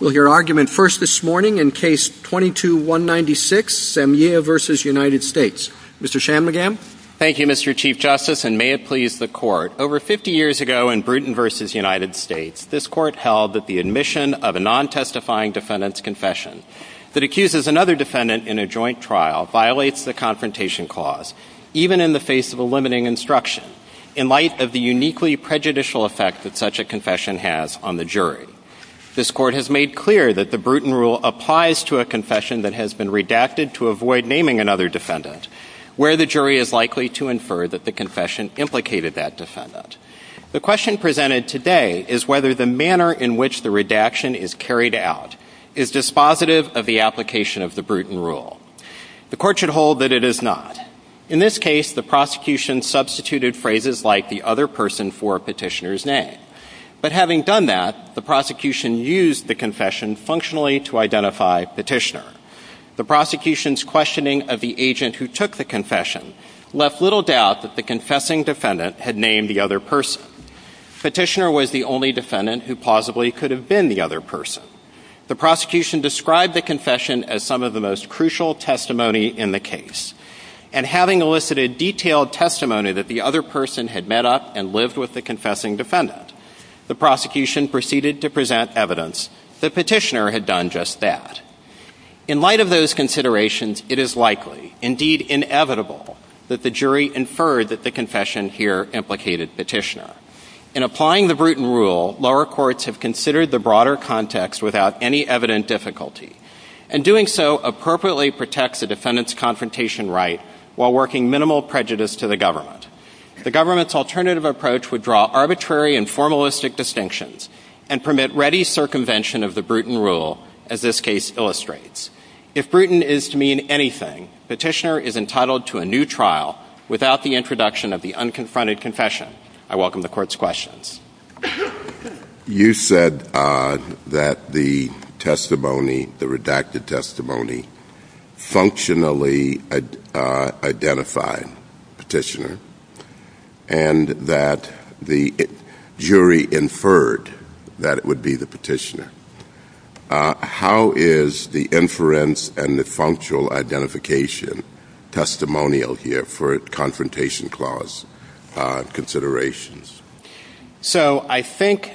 Thank you, Mr. Chief Justice, and may it please the Court, over 50 years ago in Bruton v. United States, this Court held that the admission of a non-testifying defendant's confession that accuses another defendant in a joint trial violates the Confrontation Clause, even in the face of a limiting instruction, in light of the uniquely prejudicial effects that such a confession has on the jury. This Court has made clear that the Bruton Rule applies to a confession that has been redacted to avoid naming another defendant, where the jury is likely to infer that the confession implicated that defendant. The question presented today is whether the manner in which the redaction is carried out is dispositive of the application of the Bruton Rule. The Court should hold that it is not. In this case, the prosecution substituted phrases like the other person for a petitioner's name. But having done that, the prosecution used the confession functionally to identify Petitioner. The prosecution's questioning of the agent who took the confession left little doubt that the confessing defendant had named the other person. Petitioner was the only defendant who possibly could have been the other person. The prosecution described the confession as some of the most crucial testimony in the case. And having elicited detailed testimony that the other person had met up and lived with the confessing defendant, the prosecution proceeded to present evidence that Petitioner had done just that. In light of those considerations, it is likely, indeed inevitable, that the jury inferred that the confession here implicated Petitioner. In applying the Bruton Rule, lower courts have considered the broader context without any evident difficulty. And doing so appropriately protects the defendant's confrontation right while working minimal prejudice to the government. The government's alternative approach would draw arbitrary and formalistic distinctions and permit ready circumvention of the Bruton Rule, as this case illustrates. If Bruton is to mean anything, Petitioner is entitled to a new trial without the introduction of the unconfronted confession. I welcome the Court's questions. You said that the testimony, the redacted testimony, functionally identified Petitioner, and that the jury inferred that it would be the Petitioner. How is the inference and the functional identification testimonial here for a confrontation clause considerations? So I think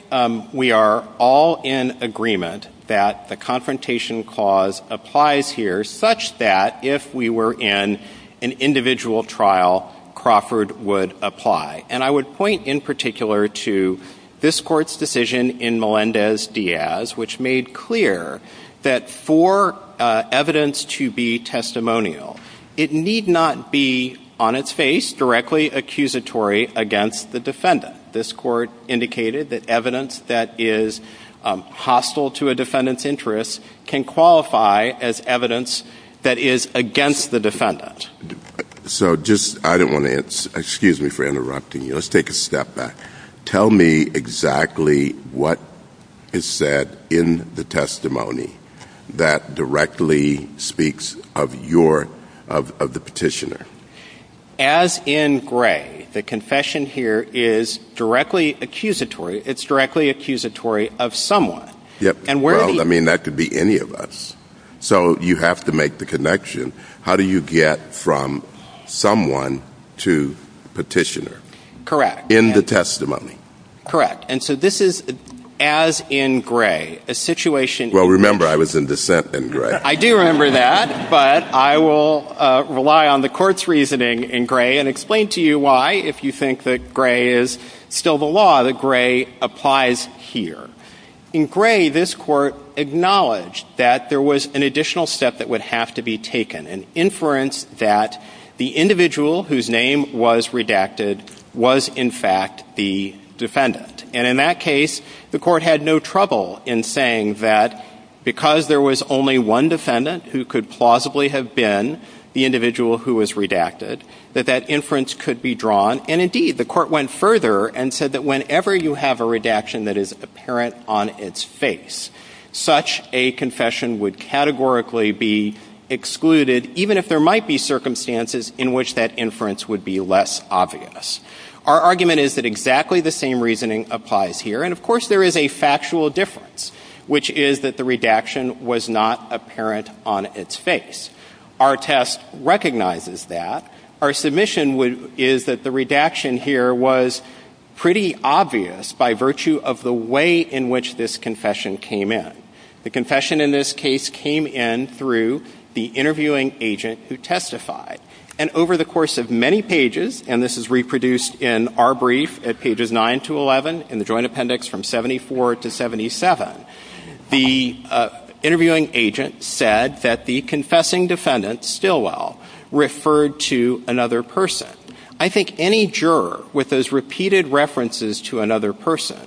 we are all in agreement that the confrontation clause applies here such that if we were in an individual trial, Crawford would apply. And I would point in particular to this Court's decision in Melendez-Diaz, which made clear that for evidence to be testimonial, it need not be, on its face, directly accusatory against the defendant. This Court indicated that evidence that is hostile to a defendant's interests can qualify as evidence that is against the defendant. So just, I don't want to, excuse me for interrupting you, let's take a step back. Tell me exactly what is said in the testimony that directly speaks of your, of the Petitioner. As in gray, the confession here is directly accusatory, it's directly accusatory of someone. Well, I mean, that could be any of us. So you have to make the connection. How do you get from someone to Petitioner? Correct. In the testimony. Correct. And so this is, as in gray, a situation... Well, remember, I was in dissent in gray. I do remember that, but I will rely on the Court's reasoning in gray and explain to you why, if you think that gray is still the law, that gray applies here. In gray, this Court acknowledged that there was an additional step that would have to be taken, an inference that the individual whose name was redacted was in fact the defendant. And in that case, the Court had no trouble in saying that because there was only one defendant who could plausibly have been the individual who was redacted, that that inference could be drawn. And indeed, the Court went further and said that whenever you have a redaction that is apparent on its face, such a confession would categorically be excluded, even if there might be circumstances in which that inference would be less obvious. Our argument is that exactly the same reasoning applies here. And, of course, there is a factual difference, which is that the redaction was not apparent on its face. Our test recognizes that. Our submission is that the redaction here was pretty obvious by virtue of the way in which this confession came in. The confession in this case came in through the interviewing agent who testified. And over the course of many pages, and this is reproduced in our brief at pages 9 to 11 in the Joint Appendix from 74 to 77, the interviewing agent said that the confessing defendant, Stilwell, referred to another person. I think any juror with those repeated references to another person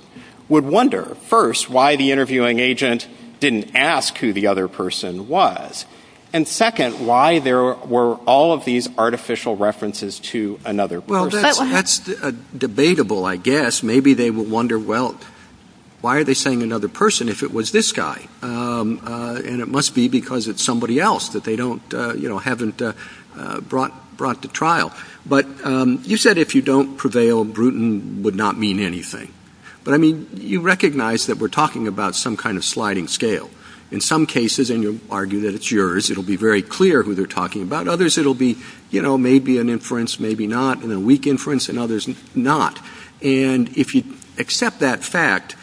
would wonder, first, why the interviewing agent didn't ask who the other person was, and, second, why there were all of these artificial references to another person. That is debatable, I guess. Maybe they will wonder, well, why are they saying another person if it was this guy? And it must be because it is somebody else that they haven't brought to trial. But you said if you don't prevail, Bruton would not mean anything. But, I mean, you recognize that we are talking about some kind of sliding scale. In some cases, and you argue that it is yours, it will be very clear who they are talking about. In others, it will be, you know, maybe an inference, maybe not, and a weak inference. In others, not. And if you accept that fact,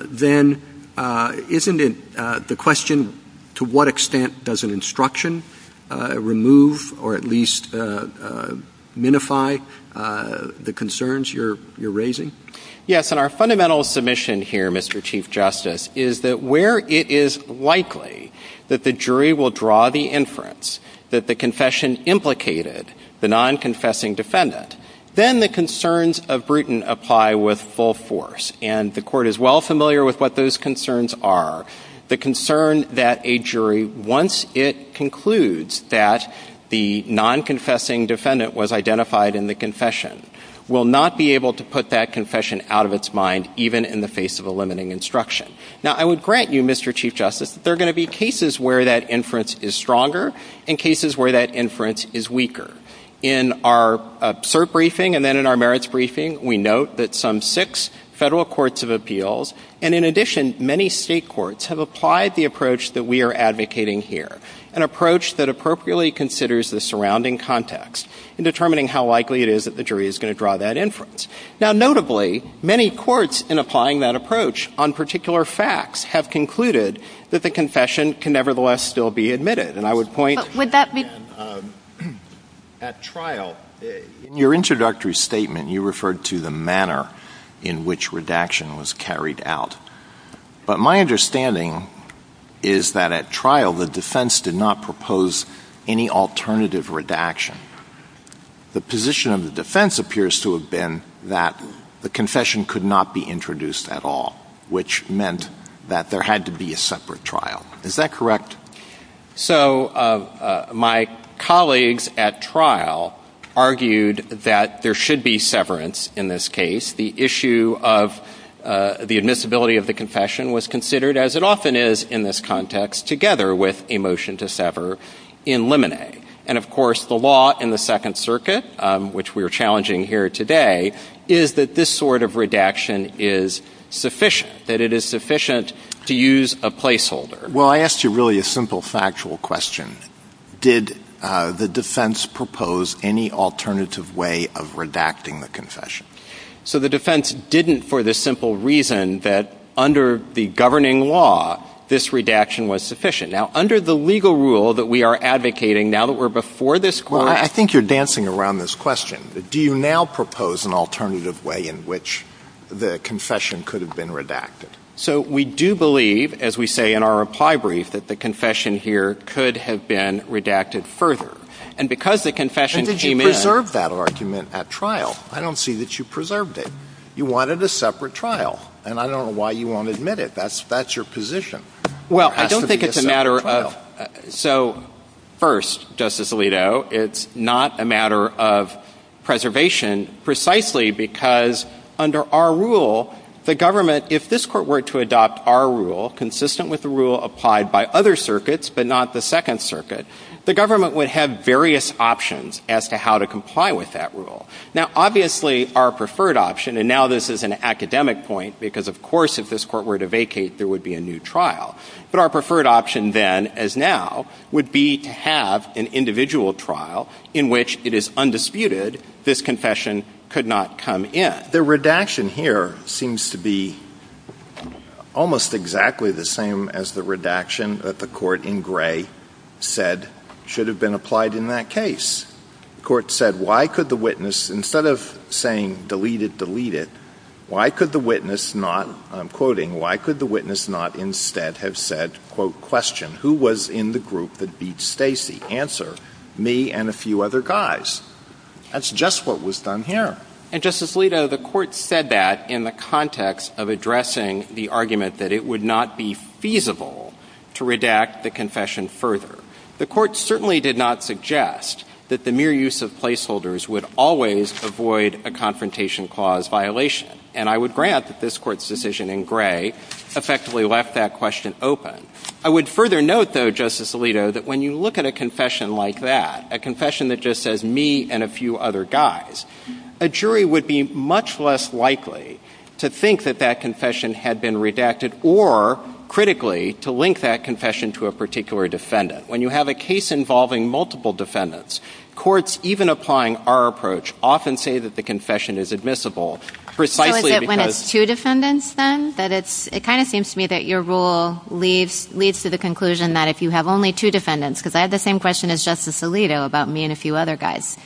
then isn't it the question to what extent does an instruction remove or at least minify the concerns you're raising? Yes, and our fundamental submission here, Mr. Chief Justice, is that where it is likely that the jury will draw the inference that the confession implicated the non-confessing defendant, then the concerns of Bruton apply with full force. And the Court is well familiar with what those concerns are. The concern that a jury, once it concludes that the non-confessing defendant was identified in the confession, will not be able to put that confession out of its mind even in the face of a limiting instruction. Now, I would grant you, Mr. Chief Justice, that there are going to be cases where that inference is stronger and cases where that inference is weaker. In our cert briefing and then in our merits briefing, we note that some six federal courts of appeals and, in addition, many state courts have applied the approach that we are advocating here, an approach that appropriately considers the surrounding context in determining how likely it is that the jury is going to draw that inference. Now, notably, many courts, in applying that approach on particular facts, have concluded that the confession can nevertheless still be admitted. And I would point... But would that be... At trial, in your introductory statement, you referred to the manner in which redaction was carried out. But my understanding is that, at trial, the defense did not propose any alternative redaction. The position of the defense appears to have been that the confession could not be introduced at all, which meant that there had to be a separate trial. Is that correct? So, my colleagues at trial argued that there should be severance in this case. The issue of the admissibility of the confession was considered, as it often is in this context, together with a motion to sever in limine. And, of course, the law in the Second Circuit, which we are challenging here today, is that this sort of redaction is sufficient, that it is sufficient to use a placeholder. Well, I asked you really a simple factual question. Did the defense propose any alternative way of redacting the confession? So the defense didn't for the simple reason that, under the governing law, this redaction was sufficient. Now, under the legal rule that we are advocating now that we're before this court... Well, I think you're dancing around this question. Do you now propose an alternative way in which the confession could have been redacted? So we do believe, as we say in our reply brief, that the confession here could have been redacted further. And because the confession came in... And did you preserve that argument at trial? I don't see that you preserved it. You wanted a separate trial, and I don't know why you won't admit it. That's your position. Well, I don't think it's a matter of... So, first, Justice Alito, it's not a matter of preservation precisely because, under our rule, the government... If this court were to adopt our rule, consistent with the rule applied by other circuits but not the Second Circuit, the government would have various options as to how to comply with that rule. Now, obviously, our preferred option... And now this is an academic point because, of course, if this court were to vacate, there would be a new trial. But our preferred option then, as now, would be to have an individual trial in which it is undisputed this confession could not come in. The redaction here seems to be almost exactly the same as the redaction that the court in Gray said should have been applied in that case. The court said, why could the witness, instead of saying, delete it, delete it, why could the witness not, and I'm quoting, why could the witness not instead have said, quote, question, who was in the group that beat Stacy? Answer, me and a few other guys. That's just what was done here. And, Justice Alito, the court said that in the context of addressing the argument that it would not be feasible to redact the confession further. The court certainly did not suggest that the mere use of placeholders would always avoid a confrontation clause violation. And I would grant that this court's decision in Gray effectively left that question open. I would further note, though, Justice Alito, that when you look at a confession like that, a confession that just says, me and a few other guys, a jury would be much less likely to think that that confession had been redacted or, critically, to link that confession to a particular defendant. When you have a case involving multiple defendants, courts, even applying our approach, often say that the confession is admissible precisely because So is it when it's two defendants, then? It kind of seems to me that your rule leads to the conclusion that if you have only two defendants, because I have the same question as Justice Alito about me and a few other guys,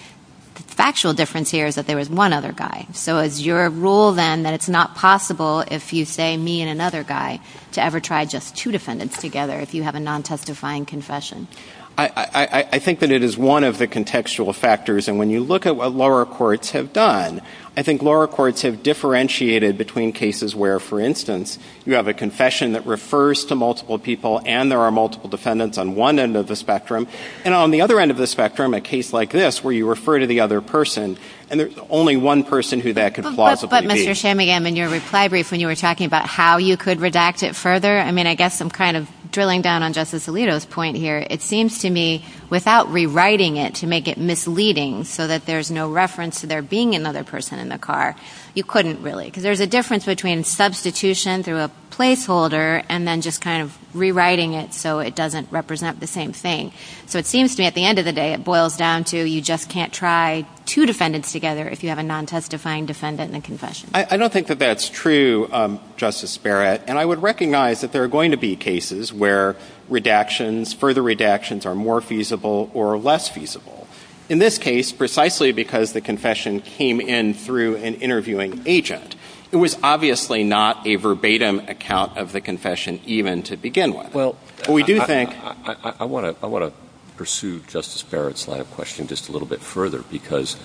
the factual difference here is that there was one other guy. So is your rule, then, that it's not possible if you say, me and another guy, to ever try just two defendants together if you have a non-testifying confession? I think that it is one of the contextual factors. And when you look at what law courts have done, I think law courts have differentiated between cases where, for instance, you have a confession that refers to multiple people and there are multiple defendants on one end of the spectrum, and on the other end of the spectrum, a case like this where you refer to the other person, and there's only one person who that could plausibly be. But, Mr. Shamingham, in your reply brief when you were talking about how you could redact it further, I mean, I guess I'm kind of drilling down on Justice Alito's point here. It seems to me, without rewriting it to make it misleading so that there's no reference to there being another person in the car, you couldn't really, because there's a difference between substitution through a placeholder and then just kind of rewriting it so it doesn't represent the same thing. So it seems to me, at the end of the day, it boils down to you just can't try two defendants together if you have a non-testifying defendant in a confession. I don't think that that's true, Justice Barrett. And I would recognize that there are going to be cases where redactions, further redactions, are more feasible or less feasible. In this case, precisely because the confession came in through an interviewing agent, it was obviously not a verbatim account of the confession even to begin with. I want to pursue Justice Barrett's line of questioning just a little bit further, because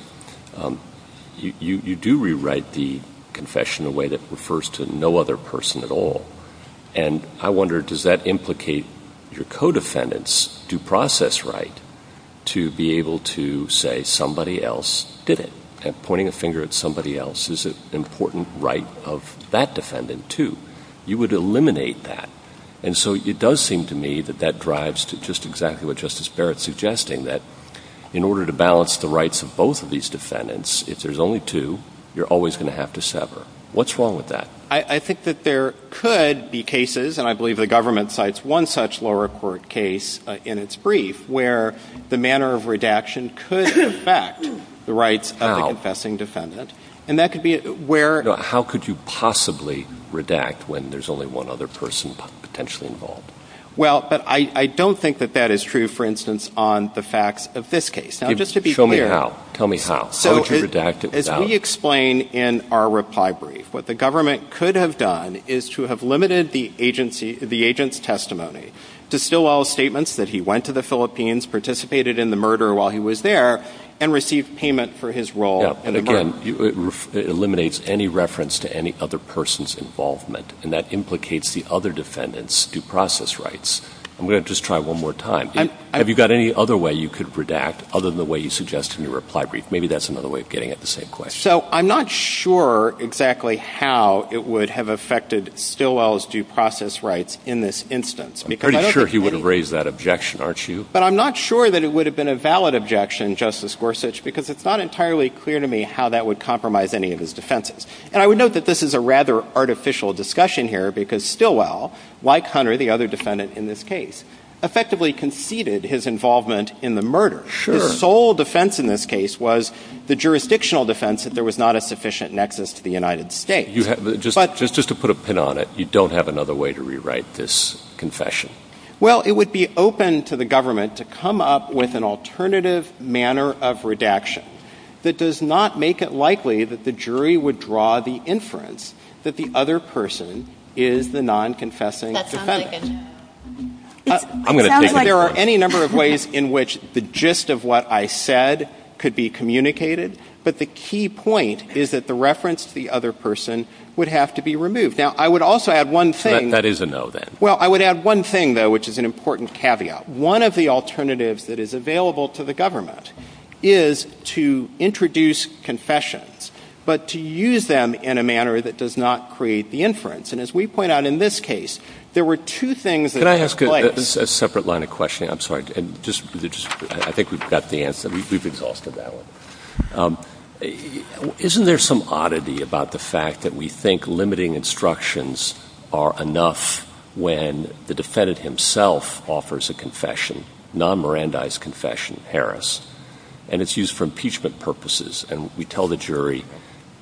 you do rewrite the confession in a way that refers to no other person at all. And I wonder, does that implicate your co-defendants do process right to be able to say somebody else did it? And pointing a finger at somebody else is an important right of that defendant, too. You would eliminate that. And so it does seem to me that that drives to just exactly what Justice Barrett's suggesting, that in order to balance the rights of both of these defendants, if there's only two, you're always going to have to sever. What's wrong with that? I think that there could be cases, and I believe the government cites one such lower court case in its brief, where the manner of redaction could affect the rights of the confessing defendant. And that could be where — How could you possibly redact when there's only one other person potentially involved? Well, I don't think that that is true, for instance, on the facts of this case. Now, just to be clear — Tell me how. Tell me how. How would you redact it without — As we explain in our reply brief, what the government could have done is to have limited the agent's testimony to Stilwell's statements that he went to the Philippines, participated in the murder while he was there, and received payment for his role in the murder. Again, it eliminates any reference to any other person's involvement, and that implicates the other defendant's due process rights. I'm going to just try one more time. Have you got any other way you could redact, other than the way you suggest in your reply brief? Maybe that's another way of getting at the same question. So I'm not sure exactly how it would have affected Stilwell's due process rights in this instance. I'm pretty sure he wouldn't raise that objection, aren't you? But I'm not sure that it would have been a valid objection, Justice Gorsuch, because it's not entirely clear to me how that would compromise any of his defenses. And I would note that this is a rather artificial discussion here, because Stilwell, like Hunter, the other defendant in this case, effectively conceded his involvement in the murder. Sure. The sole defense in this case was the jurisdictional defense that there was not a sufficient nexus to the United States. Just to put a pin on it, you don't have another way to rewrite this confession? Well, it would be open to the government to come up with an alternative manner of redaction that does not make it likely that the jury would draw the inference There are any number of ways in which the gist of what I said could be communicated, but the key point is that the reference to the other person would have to be removed. Now, I would also add one thing. That is a no, then. Well, I would add one thing, though, which is an important caveat. One of the alternatives that is available to the government is to introduce confessions, and as we point out in this case, there were two things at play. Can I ask a separate line of questioning? I'm sorry. I think we've got the answer. We've exhausted that one. Isn't there some oddity about the fact that we think limiting instructions are enough when the defendant himself offers a confession, non-Mirandized confession, Harris, and it's used for impeachment purposes, and we tell the jury,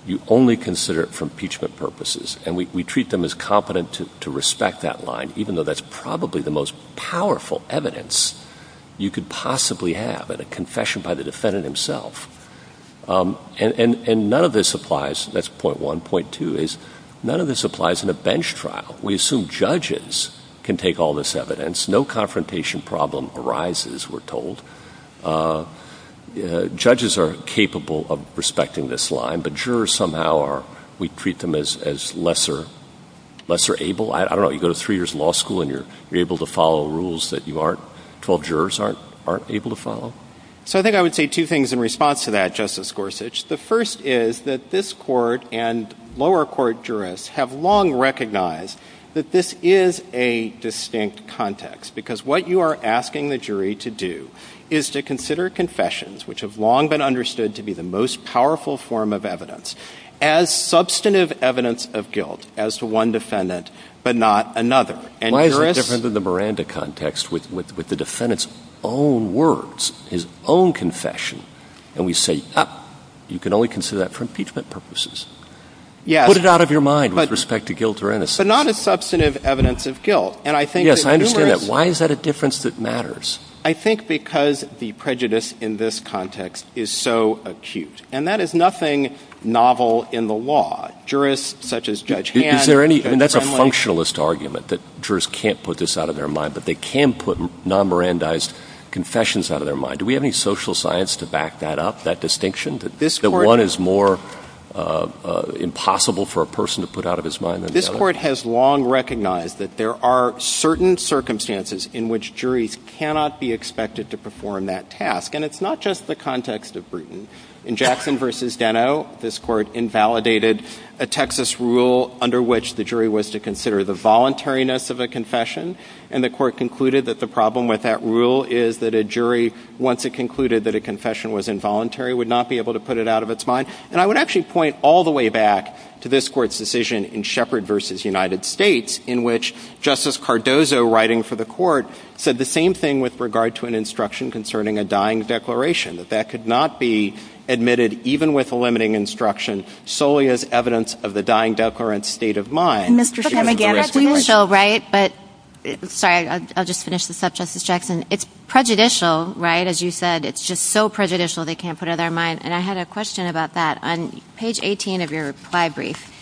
you only consider it for impeachment purposes, and we treat them as competent to respect that line, even though that's probably the most powerful evidence you could possibly have in a confession by the defendant himself. And none of this applies. That's point one. Point two is none of this applies in a bench trial. We assume judges can take all this evidence. No confrontation problem arises, we're told. Judges are capable of respecting this line, but jurors somehow we treat them as lesser able. I don't know. You go to three years law school and you're able to follow rules that you aren't, 12 jurors aren't able to follow. So I think I would say two things in response to that, Justice Gorsuch. The first is that this court and lower court jurists have long recognized that this is a distinct context, because what you are asking the jury to do is to consider confessions, which have long been understood to be the most powerful form of evidence, as substantive evidence of guilt as to one defendant but not another. Why is it different in the Miranda context with the defendant's own words, his own confession, and we say, you can only consider that for impeachment purposes? Put it out of your mind with respect to guilt or innocence. But not as substantive evidence of guilt. Yes, I understand that. Why is that a difference that matters? I think because the prejudice in this context is so acute. And that is nothing novel in the law. Jurists such as Judge Hand. Is there any, and that's a functionalist argument, that jurists can't put this out of their mind, but they can put non-Mirandized confessions out of their mind. Do we have any social science to back that up, that distinction, that one is more impossible for a person to put out of his mind than the other? This court has long recognized that there are certain circumstances in which juries cannot be expected to perform that task. And it's not just the context of Bruton. In Jackson v. Deno, this court invalidated a Texas rule under which the jury was to consider the voluntariness of a confession. And the court concluded that the problem with that rule is that a jury, once it concluded that a confession was involuntary, would not be able to put it out of its mind. And I would actually point all the way back to this court's decision in Shepard v. United States, in which Justice Cardozo, writing for the court, said the same thing with regard to an instruction concerning a dying declaration, that that could not be admitted, even with a limiting instruction, solely as evidence of the dying declarant's state of mind. Mr. Shepard, can I add to that? Sorry, I'll just finish this up, Justice Jackson. It's prejudicial, right, as you said. It's just so prejudicial they can't put it out of their mind. And I had a question about that. On page 18 of your reply brief,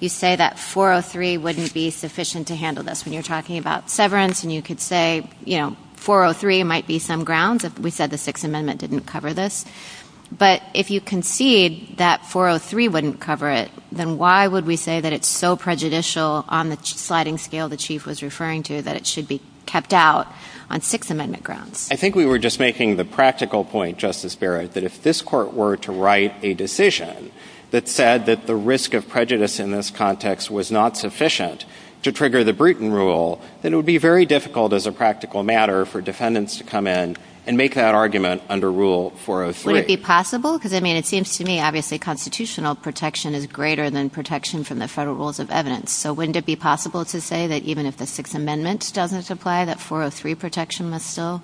you say that 403 wouldn't be sufficient to handle this when you're talking about severance, and you could say, you know, 403 might be some ground. We said the Sixth Amendment didn't cover this. But if you concede that 403 wouldn't cover it, then why would we say that it's so prejudicial on the sliding scale the Chief was referring to, that it should be kept out on Sixth Amendment grounds? I think we were just making the practical point, Justice Barrett, that if this court were to write a decision that said that the risk of prejudice in this context was not sufficient to trigger the Bruton Rule, then it would be very difficult as a practical matter for defendants to come in and make that argument under Rule 403. Would it be possible? Because, I mean, it seems to me, obviously, constitutional protection is greater than protection from the federal rules of evidence. So wouldn't it be possible to say that even if the Sixth Amendment doesn't apply, that 403 protection must still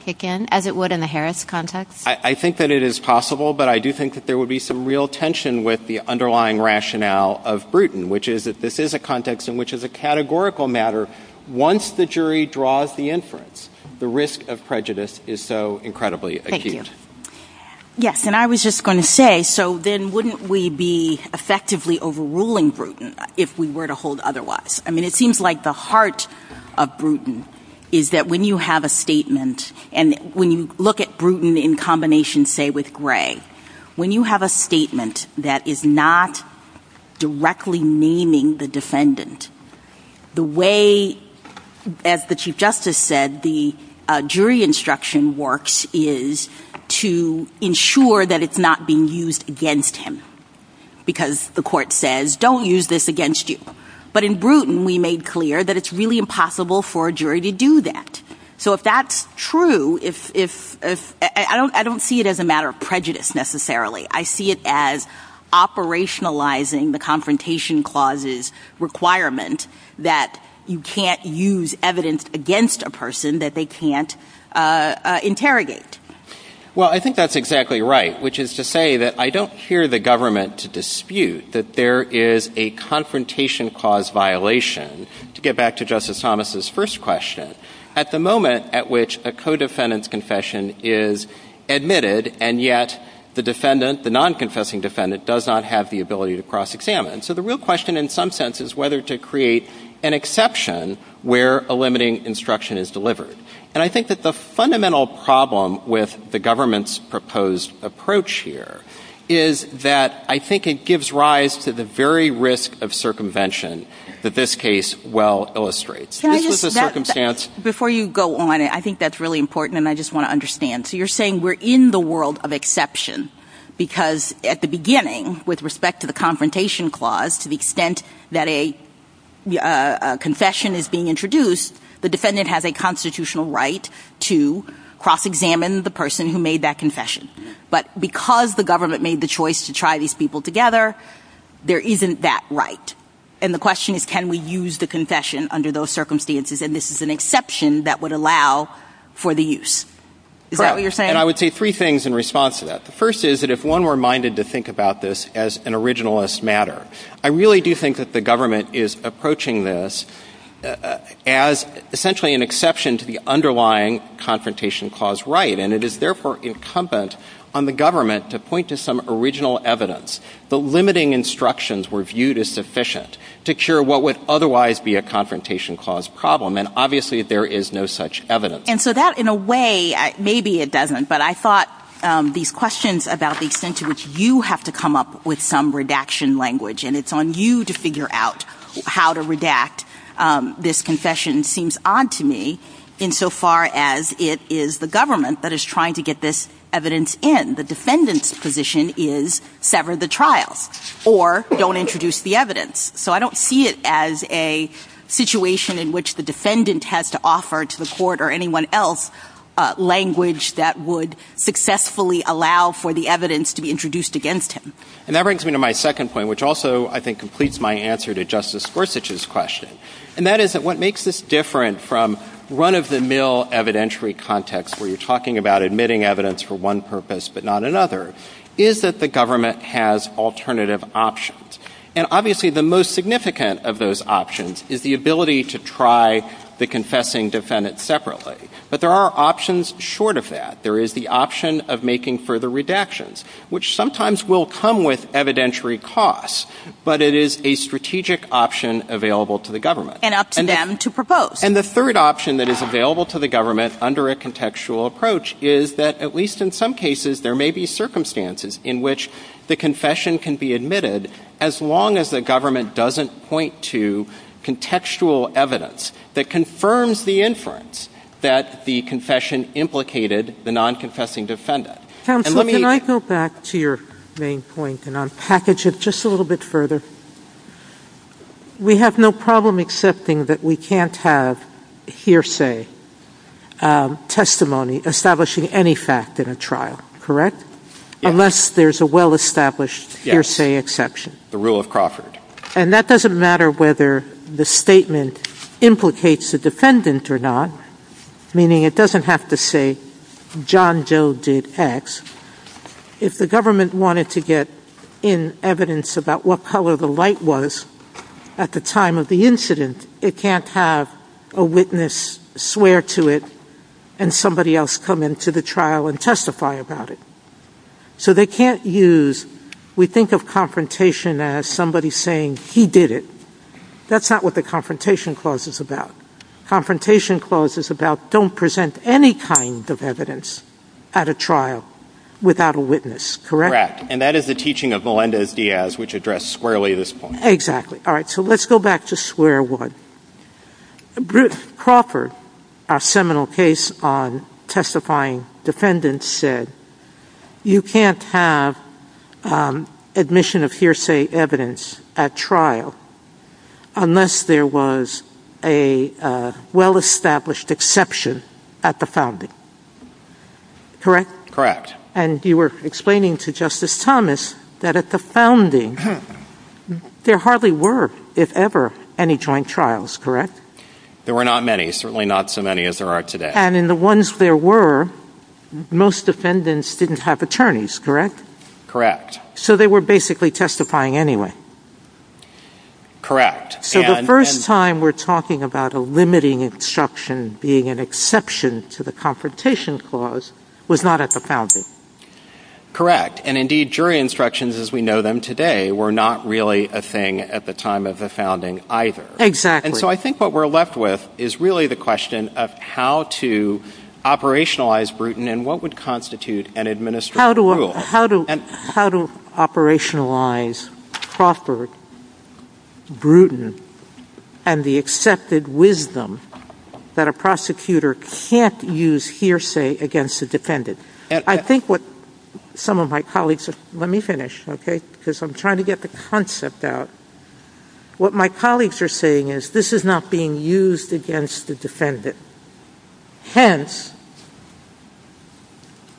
kick in, as it would in the Harris context? I think that it is possible, but I do think that there would be some real tension with the underlying rationale of Bruton, which is that this is a context in which, as a categorical matter, once the jury draws the inference, the risk of prejudice is so incredibly acute. Thank you. Yes, and I was just going to say, so then wouldn't we be effectively overruling Bruton if we were to hold otherwise? I mean, it seems like the heart of Bruton is that when you have a statement, and when you look at Bruton in combination, say, with Gray, when you have a statement that is not directly naming the defendant, the way, as the Chief Justice said, the jury instruction works is to ensure that it's not being used against him. Because the court says, don't use this against you. But in Bruton, we made clear that it's really impossible for a jury to do that. So if that's true, I don't see it as a matter of prejudice, necessarily. I see it as operationalizing the Confrontation Clause's requirement that you can't use evidence against a person that they can't interrogate. Well, I think that's exactly right, which is to say that I don't hear the government to dispute that there is a Confrontation Clause violation. To get back to Justice Thomas's first question, at the moment at which a co-defendant's confession is admitted, and yet the defendant, the non-confessing defendant, does not have the ability to cross-examine, so the real question in some sense is whether to create an exception where a limiting instruction is delivered. And I think that the fundamental problem with the government's proposed approach here is that I think it gives rise to the very risk of circumvention that this case well illustrates. This was a circumstance... Before you go on, I think that's really important, and I just want to understand. So you're saying we're in the world of exception because at the beginning, with respect to the Confrontation Clause, to the extent that a confession is being introduced, the defendant has a constitutional right to cross-examine the person who made that confession. But because the government made the choice to try these people together, there isn't that right. And the question is, can we use the confession under those circumstances? And this is an exception that would allow for the use. Is that what you're saying? And I would say three things in response to that. The first is that if one were minded to think about this as an originalist matter, I really do think that the government is approaching this as essentially an exception to the underlying Confrontation Clause right, and it is therefore incumbent on the government to point to some original evidence. The limiting instructions were viewed as sufficient to cure what would otherwise be a Confrontation Clause problem, and obviously there is no such evidence. And so that in a way, maybe it doesn't, but I thought these questions about the extent to which you have to come up with some redaction language and it's on you to figure out how to redact this concession seems odd to me insofar as it is the government that is trying to get this evidence in. The defendant's position is sever the trial or don't introduce the evidence. So I don't see it as a situation in which the defendant has to offer to the court or anyone else language that would successfully allow for the evidence to be introduced against him. And that brings me to my second point, which also I think completes my answer to Justice Gorsuch's question. And that is that what makes this different from run-of-the-mill evidentiary context where you're talking about admitting evidence for one purpose but not another, is that the government has alternative options. And obviously the most significant of those options is the ability to try the confessing defendant separately. But there are options short of that. There is the option of making further redactions, which sometimes will come with evidentiary costs, but it is a strategic option available to the government. And up to them to propose. And the third option that is available to the government under a contextual approach is that at least in some cases there may be circumstances in which the confession can be admitted as long as the government doesn't point to contextual evidence that confirms the inference that the confession implicated the non-confessing defendant. Can I go back to your main point and unpackage it just a little bit further? We have no problem accepting that we can't have hearsay, testimony, establishing any fact in a trial, correct? Unless there's a well-established hearsay exception. The rule of Crawford. And that doesn't matter whether the statement implicates the defendant or not, meaning it doesn't have to say, John Doe did X. If the government wanted to get in evidence about what color the light was at the time of the incident, it can't have a witness swear to it and somebody else come into the trial and testify about it. So they can't use... We think of confrontation as somebody saying he did it. That's not what the Confrontation Clause is about. The Confrontation Clause is about don't present any kind of evidence at a trial without a witness, correct? Correct. And that is the teaching of Melendez-Diaz, which addressed squarely this point. Exactly. All right, so let's go back to square one. Bruce Crawford, our seminal case on testifying defendants, said you can't have admission of hearsay evidence at trial unless there was a well-established exception at the founding. Correct? Correct. And you were explaining to Justice Thomas that at the founding, there hardly were, if ever, any joint trials, correct? There were not many, certainly not so many as there are today. And in the ones there were, most defendants didn't have attorneys, correct? Correct. So they were basically testifying anyway. Correct. So the first time we're talking about a limiting instruction being an exception to the Confrontation Clause was not at the founding. Correct. And indeed, jury instructions as we know them today were not really a thing at the time of the founding either. Exactly. And so I think what we're left with is really the question of how to operationalize Bruton and what would constitute an administrative rule. How to operationalize Crawford, Bruton, and the accepted wisdom that a prosecutor can't use hearsay against a defendant. I think what some of my colleagues... Let me finish, okay? Because I'm trying to get the concept out. What my colleagues are saying is this is not being used against the defendant. Hence,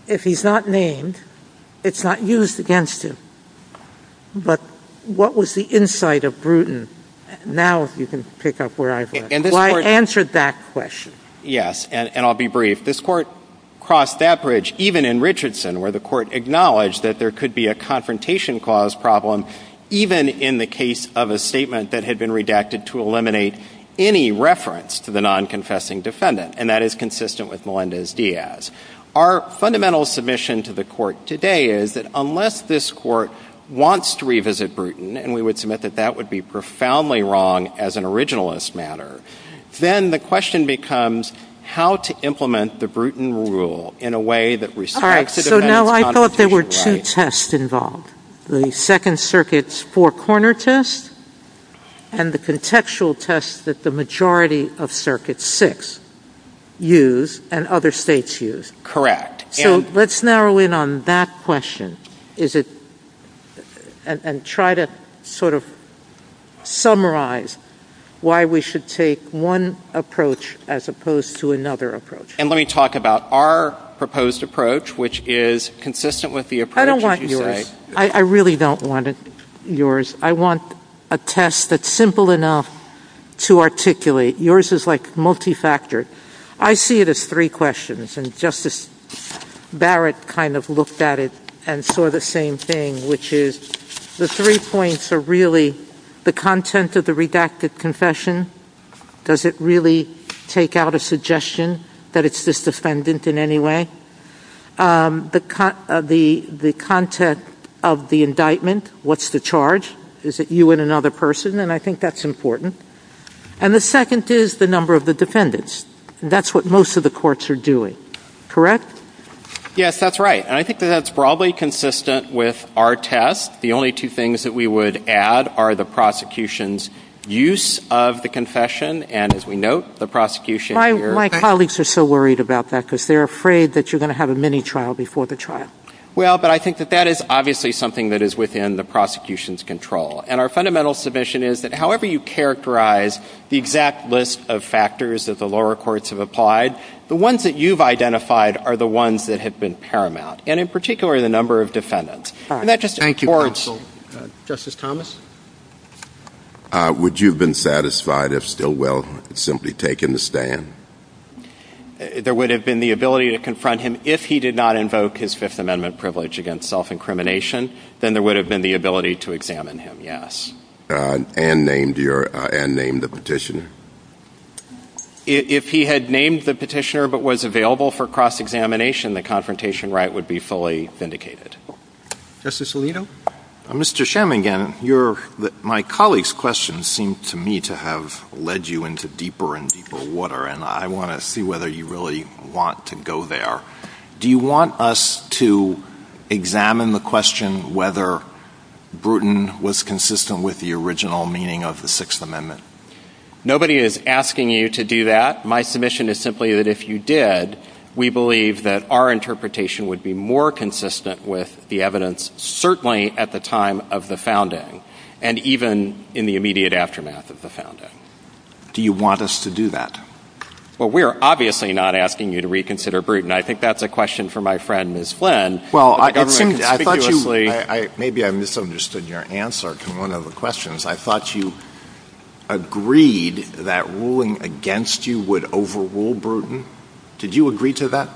if he's not named, it's not used against him. But what was the insight of Bruton? Now you can pick up where I've left off. Well, I answered that question. Yes, and I'll be brief. This court crossed that bridge even in Richardson where the court acknowledged that there could be a Confrontation Clause problem even in the case of a statement that had been redacted to eliminate any reference to the non-confessing defendant. And that is consistent with Melendez-Diaz. Our fundamental submission to the court today is that unless this court wants to revisit Bruton, and we would submit that that would be profoundly wrong as an originalist matter, then the question becomes how to implement the Bruton Rule in a way that respects... All right, so now I thought there were two tests involved. The Second Circuit's four-corner test and the contextual test that the majority of Circuit 6 use and other states use. Correct. So let's narrow in on that question and try to sort of summarize why we should take one approach as opposed to another approach. And let me talk about our proposed approach, which is consistent with the approach that you say. I don't want yours. I really don't want yours. I want a test that's simple enough to articulate. Yours is, like, multifactored. I see it as three questions, and Justice Barrett kind of looked at it and saw the same thing, which is the three points are really the content of the redacted confession. Does it really take out a suggestion that it's this defendant in any way? The content of the indictment. What's the charge? Is it you and another person? And I think that's important. And the second is the number of the defendants. That's what most of the courts are doing. Correct? Yes, that's right. And I think that that's broadly consistent with our test. The only two things that we would add are the prosecution's use of the confession and, as we note, the prosecution... My colleagues are so worried about that because they're afraid that you're going to have a mini trial before the trial. Well, but I think that that is obviously something that is within the prosecution's control. And our fundamental submission is that however you characterize the exact list of factors that the lower courts have applied, the ones that you've identified are the ones that have been paramount, and in particular, the number of defendants. Thank you, counsel. Justice Thomas? Would you have been satisfied if Stilwell had simply taken the stand? There would have been the ability to confront him if he did not invoke his Fifth Amendment privilege against self-incrimination. Then there would have been the ability to examine him, yes. And name the petitioner? If he had named the petitioner but was available for cross-examination, then the confrontation right would be fully vindicated. Justice Alito? Mr. Schamingen, my colleagues' questions seem to me to have led you into deeper and deeper water, and I want to see whether you really want to go there. Do you want us to examine the question whether Bruton was consistent with the original meaning of the Sixth Amendment? Nobody is asking you to do that. My submission is simply that if you did, we believe that our interpretation would be more consistent with the evidence, certainly at the time of the founding and even in the immediate aftermath of the founding. Do you want us to do that? Well, we are obviously not asking you to reconsider Bruton. I think that's a question for my friend, Ms. Flynn. Well, I thought you... Maybe I misunderstood your answer to one of the questions. I thought you agreed that ruling against you would overrule Bruton. Did you agree to that?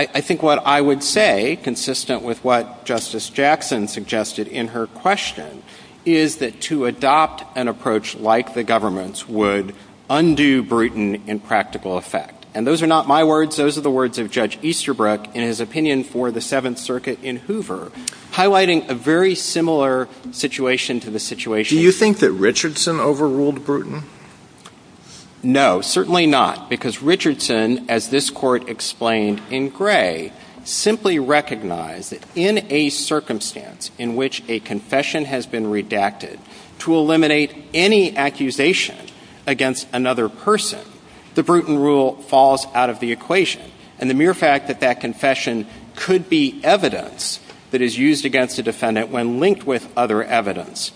I think what I would say, consistent with what Justice Jackson suggested in her question, is that to adopt an approach like the government's would undo Bruton in practical effect. And those are not my words. Those are the words of Judge Easterbrook in his opinion for the Seventh Circuit in Hoover, highlighting a very similar situation to the situation... Do you think that Richardson overruled Bruton? No, certainly not, because Richardson, as this court explained in Gray, simply recognized that in a circumstance in which a confession has been redacted to eliminate any accusation against another person, the Bruton rule falls out of the equation. And the mere fact that that confession could be evidence that is used against a defendant when linked with other evidence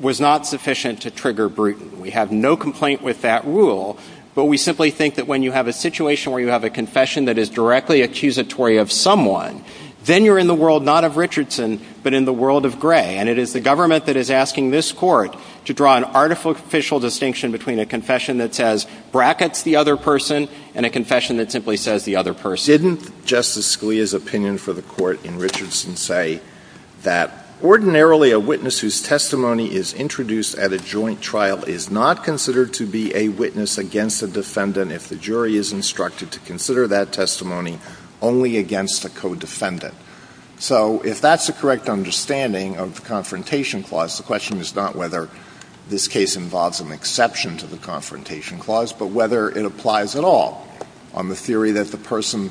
was not sufficient to trigger Bruton. We have no complaint with that rule, but we simply think that when you have a situation where you have a confession that is directly accusatory of someone, then you're in the world not of Richardson, but in the world of Gray. And it is the government that is asking this court to draw an artificial distinction between a confession that says brackets the other person and a confession that simply says the other person. Didn't Justice Scalia's opinion for the court in Richardson say that ordinarily a witness whose testimony is introduced at a joint trial is not considered to be a witness against a defendant if the jury is instructed to consider that testimony only against a co-defendant? So if that's the correct understanding of the Confrontation Clause, the question is not whether this case involves an exception to the Confrontation Clause, but whether it applies at all on the theory that the person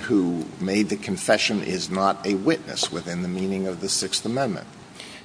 who made the confession is not a witness within the meaning of the Sixth Amendment.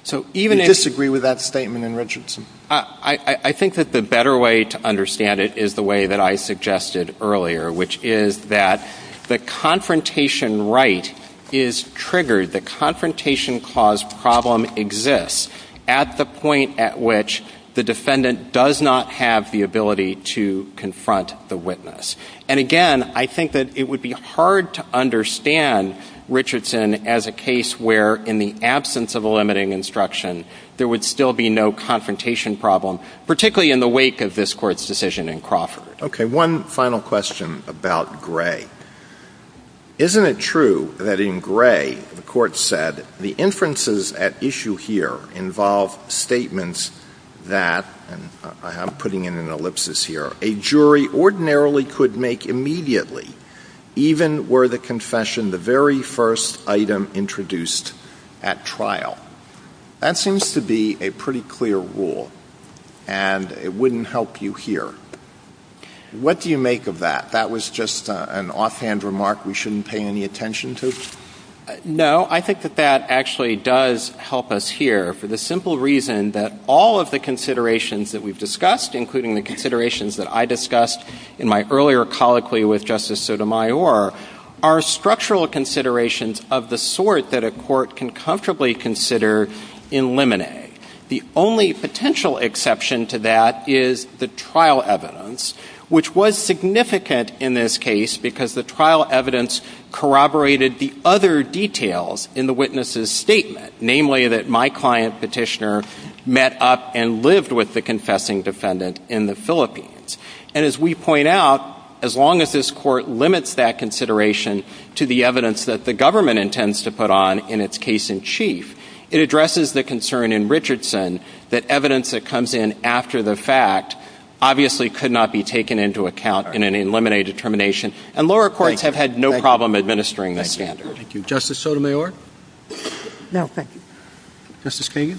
Do you disagree with that statement in Richardson? I think that the better way to understand it is the way that I suggested earlier, which is that the confrontation right is triggered, the Confrontation Clause problem exists at the point at which the defendant does not have the ability to confront the witness. And again, I think that it would be hard to understand Richardson as a case where, in the absence of a limiting instruction, there would still be no confrontation problem, particularly in the wake of this Court's decision in Crawford. Okay, one final question about Gray. Isn't it true that in Gray, the Court said, the inferences at issue here involve statements that, and I'm putting in an ellipsis here, a jury ordinarily could make immediately, even were the confession the very first item introduced at trial? That seems to be a pretty clear rule, and it wouldn't help you here. What do you make of that? That was just an offhand remark we shouldn't pay any attention to? No, I think that that actually does help us here for the simple reason that all of the considerations that we've discussed, including the considerations that I discussed in my earlier colloquy with Justice Sotomayor, are structural considerations of the sort that a court can comfortably consider in limine. The only potential exception to that is the trial evidence, which was significant in this case because the trial evidence corroborated the other details in the witness's statement, namely that my client, Petitioner, met up and lived with the confessing defendant in the Philippines. And as we point out, as long as this court limits that consideration to the evidence that the government intends to put on in its case in chief, it addresses the concern in Richardson that evidence that comes in after the fact obviously could not be taken into account in an eliminated termination, and lower courts have had no problem administering that standard. Thank you. Justice Sotomayor? No, thank you. Justice Kagan?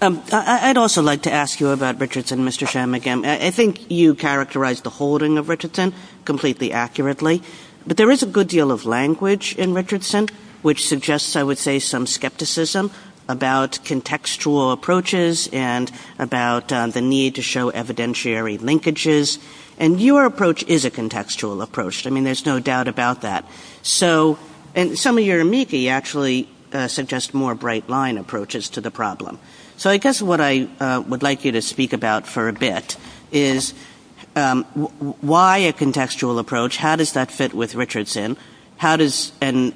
I'd also like to ask you about Richardson, Mr. Shanmugam. I think you characterized the holding of Richardson completely accurately, but there is a good deal of language in Richardson which suggests, I would say, some skepticism about contextual approaches and about the need to show evidentiary linkages, and your approach is a contextual approach. I mean, there's no doubt about that. And some of your amici actually suggest more bright-line approaches to the problem. So I guess what I would like you to speak about for a bit is why a contextual approach, how does that fit with Richardson, and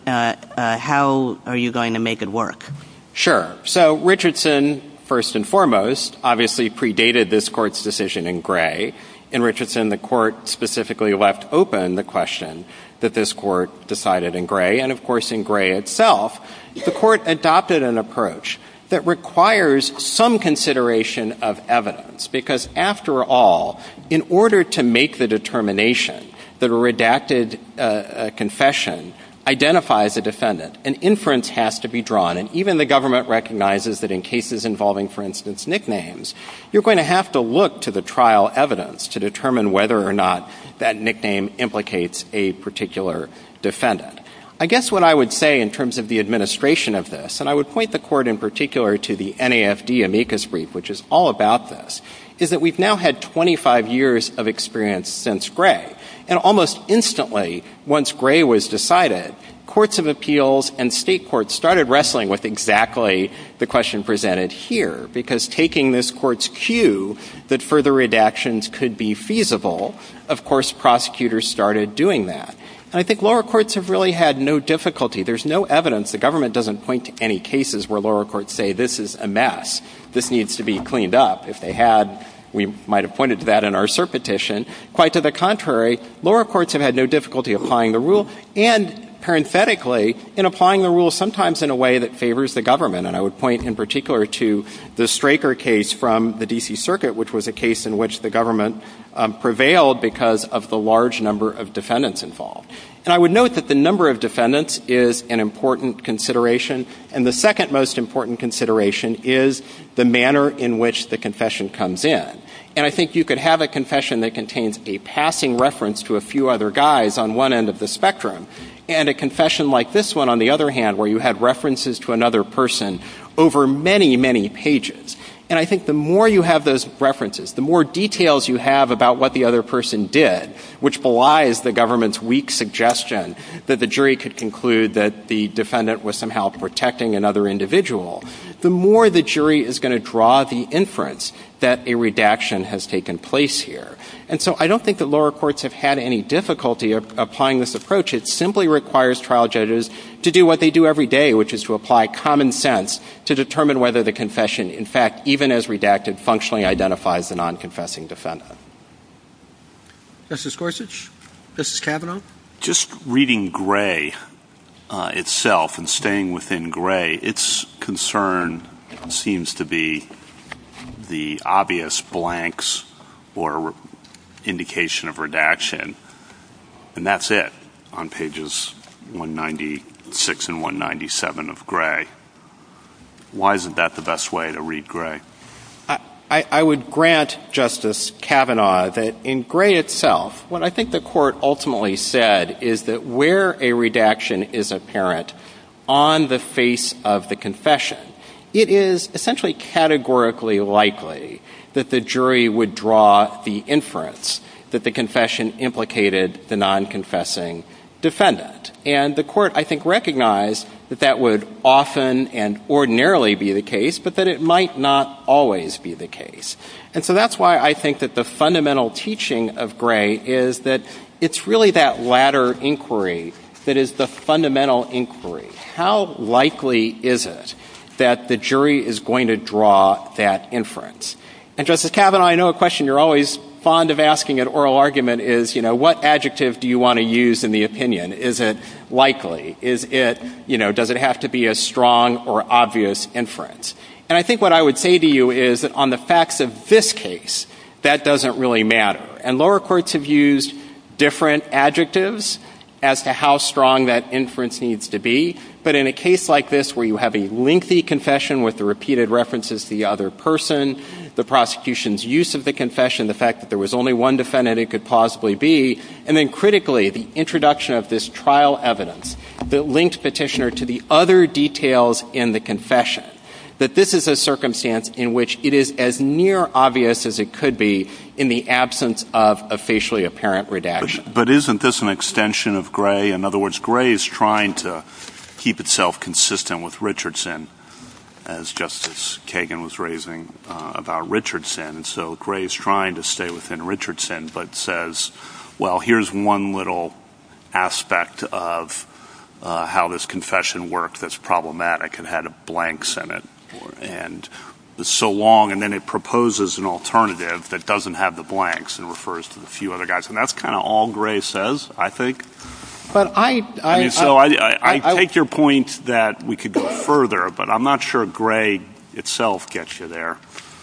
how are you going to make it work? Sure. So Richardson, first and foremost, obviously predated this court's decision in Gray. In Richardson, the court specifically left open the question that this court decided in Gray, and of course in Gray itself, the court adopted an approach that requires some consideration of evidence, because after all, in order to make the determination that a redacted confession identifies a defendant, an inference has to be drawn, and even the government recognizes that in cases involving, for instance, nicknames, you're going to have to look to the trial evidence to determine whether or not that nickname implicates a particular defendant. I guess what I would say in terms of the administration of this, and I would point the court in particular to the NAFD amicus brief, which is all about this, is that we've now had 25 years of experience since Gray, and almost instantly, once Gray was decided, courts of appeals and state courts started wrestling with exactly the question presented here, because taking this court's cue that further redactions could be feasible, of course prosecutors started doing that. And I think lower courts have really had no difficulty. There's no evidence. The government doesn't point to any cases where lower courts say this is a mess, this needs to be cleaned up. If they had, we might have pointed to that in our cert petition. Quite to the contrary, lower courts have had no difficulty applying the rule, and parenthetically, in applying the rule sometimes in a way that favors the government, and I would point in particular to the Straker case from the D.C. Circuit, which was a case in which the government prevailed because of the large number of defendants involved. And I would note that the number of defendants is an important consideration, and the second most important consideration is the manner in which the confession comes in. And I think you could have a confession that contains a passing reference to a few other guys on one end of the spectrum, and a confession like this one, on the other hand, where you have references to another person over many, many pages. And I think the more you have those references, the more details you have about what the other person did, which belies the government's weak suggestion that the jury could conclude that the defendant was somehow protecting another individual, the more the jury is going to draw the inference that a redaction has taken place here. And so I don't think that lower courts have had any difficulty applying this approach. It simply requires trial judges to do what they do every day, which is to apply common sense to determine whether the confession, in fact, even as redacted, functionally identifies the non-confessing defendant. Mr. Scorsese? Mr. Kavanaugh? Just reading Gray itself and staying within Gray, its concern seems to be the obvious blanks or indication of redaction, and that's it on pages 196 and 197 of Gray. Why isn't that the best way to read Gray? I would grant Justice Kavanaugh that in Gray itself, what I think the court ultimately said is that where a redaction is apparent on the face of the confession, it is essentially categorically likely that the jury would draw the inference that the confession implicated the non-confessing defendant. And the court, I think, recognized that that would often and ordinarily be the case, but that it might not always be the case. And so that's why I think that the fundamental teaching of Gray is that it's really that latter inquiry that is the fundamental inquiry. How likely is it that the jury is going to draw that inference? And, Justice Kavanaugh, I know a question you're always fond of asking at oral argument is, you know, what adjective do you want to use in the opinion? Is it likely? Is it, you know, does it have to be a strong or obvious inference? And I think what I would say to you is that on the facts of this case, that doesn't really matter. And lower courts have used different adjectives as to how strong that inference needs to be. But in a case like this where you have a lengthy confession with the repeated references to the other person, the prosecution's use of the confession, the fact that there was only one defendant it could possibly be, and then critically, the introduction of this trial evidence that linked petitioner to the other details in the confession, that this is a circumstance in which it is as near obvious as it could be in the absence of a facially apparent redaction. But isn't this an extension of Gray? In other words, Gray is trying to keep itself consistent with Richardson as Justice Kagan was raising about Richardson. So Gray is trying to stay within Richardson but says, well, here's one little aspect of how this confession worked that's problematic and had a blank Senate. And it's so long, and then it proposes an alternative that doesn't have the blanks and refers to a few other guys. And that's kind of all Gray says, I think. So I take your point that we could go further, but I'm not sure Gray itself gets you there.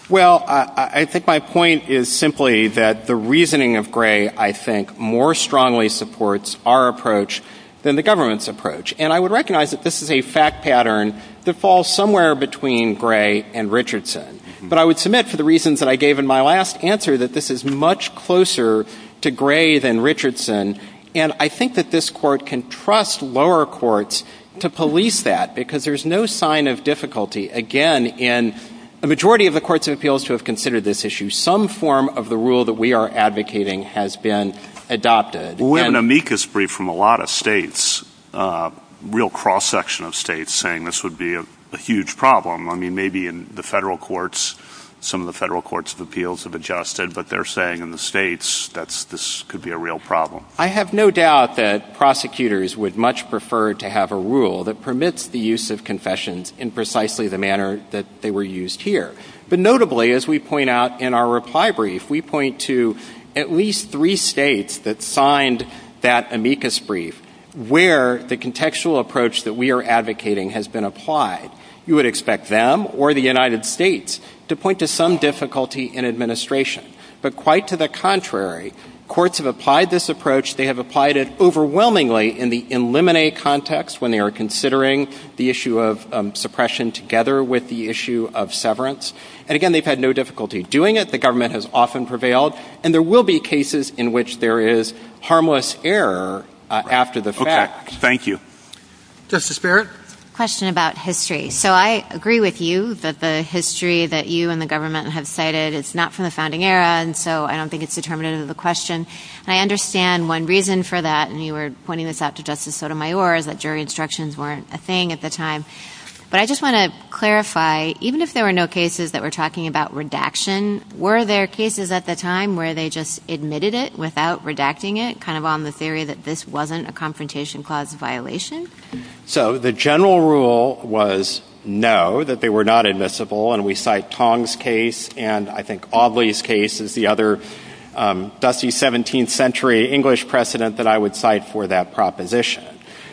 Well, I think my point is simply that the reasoning of Gray, I think, more strongly supports our approach than the government's approach. And I would recognize that this is a fact pattern that falls somewhere between Gray and Richardson. But I would submit for the reasons that I gave in my last answer that this is much closer to Gray than Richardson. And I think that this court can trust lower courts to police that because there's no sign of difficulty, again, in a majority of the courts of appeals who have considered this issue. There's some form of the rule that we are advocating has been adopted. We have an amicus brief from a lot of states, a real cross-section of states, saying this would be a huge problem. I mean, maybe in the federal courts, some of the federal courts of appeals have adjusted, but they're saying in the states that this could be a real problem. I have no doubt that prosecutors would much prefer to have a rule that permits the use of confessions in precisely the manner that they were used here. But notably, as we point out in our reply brief, we point to at least three states that signed that amicus brief where the contextual approach that we are advocating has been applied. You would expect them or the United States to point to some difficulty in administration. But quite to the contrary, courts have applied this approach, they have applied it overwhelmingly in the eliminate context when they are considering the issue of suppression together with the issue of severance. And again, they've had no difficulty doing it. The government has often prevailed. And there will be cases in which there is harmless error after the fact. Thank you. Justice Barrett? Question about history. So I agree with you that the history that you and the government have cited is not from the founding era, and so I don't think it's determinative of the question. I understand one reason for that, and you were pointing this out to Justice Sotomayor, that jury instructions weren't a thing at the time. But I just want to clarify, even if there were no cases that were talking about redaction, were there cases at the time where they just admitted it without redacting it, kind of on the theory that this wasn't a confrontation clause violation? So the general rule was no, that they were not admissible, and we cite Tong's case, and I think Audley's case is the other dusty 17th century English precedent that I would cite for that proposition.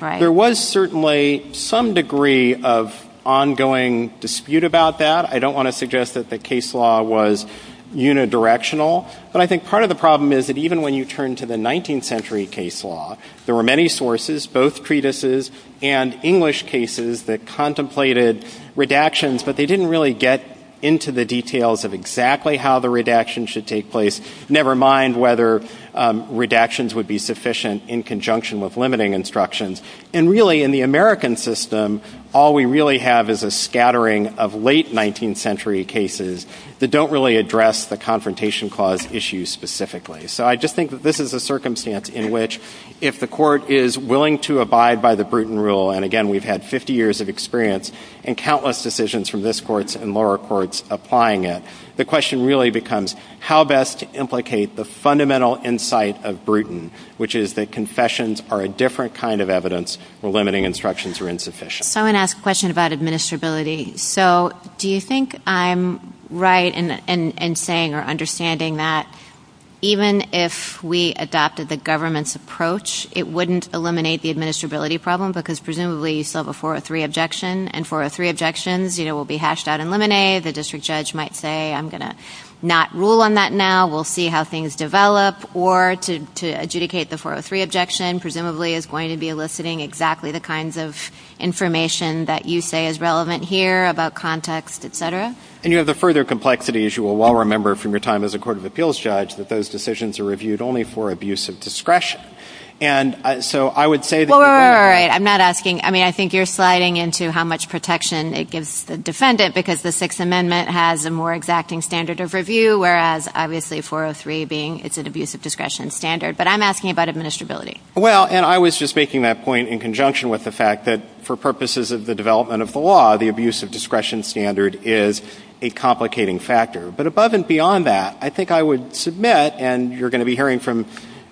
There was certainly some degree of ongoing dispute about that. I don't want to suggest that the case law was unidirectional, but I think part of the problem is that even when you turn to the 19th century case law, there were many sources, both treatises and English cases that contemplated redactions, but they didn't really get into the details of exactly how the redaction should take place, never mind whether redactions would be sufficient in conjunction with limiting instructions. And really, in the American system, all we really have is a scattering of late 19th century cases that don't really address the confrontation clause issues specifically. So I just think that this is a circumstance in which if the court is willing to abide by the Bruton rule, and again, we've had 50 years of experience in countless decisions from this court and lower courts applying it, the question really becomes how best to implicate the fundamental insight of Bruton, which is that confessions are a different kind of evidence where limiting instructions are insufficient. I want to ask a question about administrability. So do you think I'm right in saying or understanding that even if we adopted the government's approach, it wouldn't eliminate the administrability problem because presumably you still have a 403 objection, and 403 objections will be hashed out and eliminated. The district judge might say, I'm going to not rule on that now. We'll see how things develop. Or to adjudicate the 403 objection, presumably is going to be eliciting exactly the kinds of information that you say is relevant here, about context, et cetera. And you have the further complexity, as you will all remember from your time as a court of appeals judge, that those decisions are reviewed only for abuse of discretion. And so I would say that... All right, I'm not asking... I mean, I think you're sliding into how much protection it gives the defendant because the Sixth Amendment has a more exacting standard of review, whereas obviously 403 being it's an abuse of discretion standard. But I'm asking about administrability. Well, and I was just making that point in conjunction with the fact that for purposes of the development of the law, the abuse of discretion standard is a complicating factor. But above and beyond that, I think I would submit, and you're going to be hearing from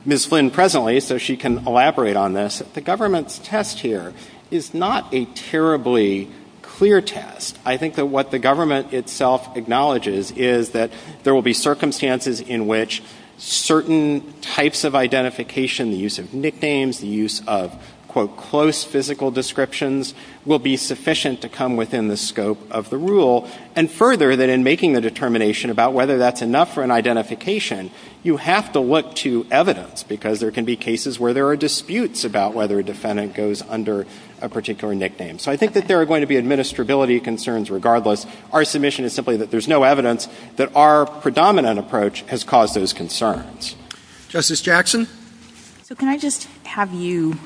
Ms. Flynn presently so she can elaborate on this, the government's test here is not a terribly clear test. I think that what the government itself acknowledges is that there will be circumstances in which certain types of identification, the use of nicknames, the use of, quote, close physical descriptions, will be sufficient to come within the scope of the rule. And further, that in making the determination about whether that's enough for an identification, you have to look to evidence because there can be cases where there are disputes about whether a defendant goes under a particular nickname. So I think that there are going to be administrability concerns regardless. Our submission is simply that there's no evidence that our predominant approach has caused those concerns. Justice Jackson? So can I just have you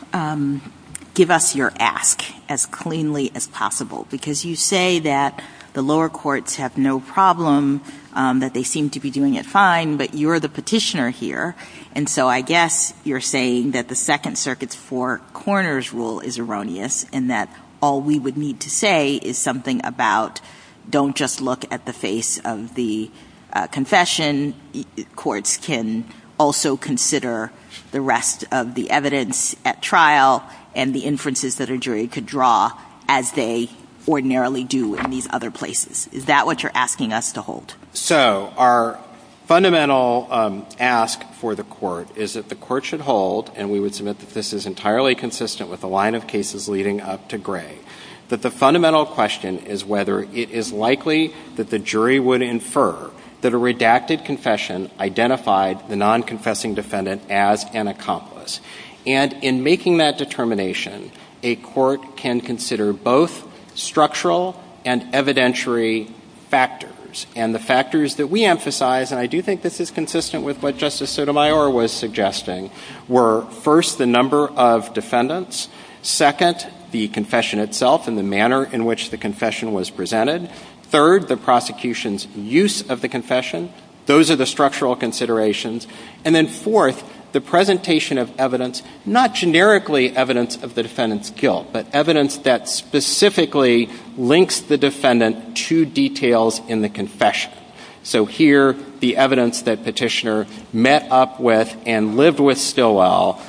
give us your ask as cleanly as possible? Because you say that the lower courts have no problem, that they seem to be doing it fine, but you're the petitioner here. And so I guess you're saying that the Second Circuit's Four Corners rule is erroneous and that all we would need to say is something about don't just look at the face of the confession. Courts can also consider the rest of the evidence at trial and the inferences that a jury could draw as they ordinarily do in these other places. Is that what you're asking us to hold? So our fundamental ask for the court is that the court should hold, and we would submit that this is entirely consistent with the line of cases leading up to Gray, that the fundamental question is whether it is likely that the jury would infer that a redacted confession identified the non-confessing defendant as an accomplice. And in making that determination, a court can consider both structural and evidentiary factors. And the factors that we emphasize, and I do think this is consistent with what Justice Sotomayor was suggesting, were, first, the number of defendants, second, the confession itself and the manner in which the confession was presented, third, the prosecution's use of the confession. Those are the structural considerations. And then fourth, the presentation of evidence, not generically evidence of the defendant's guilt, but evidence that specifically links the defendant to details in the confession. So here, the evidence that Petitioner met up with and lived with Stillwell,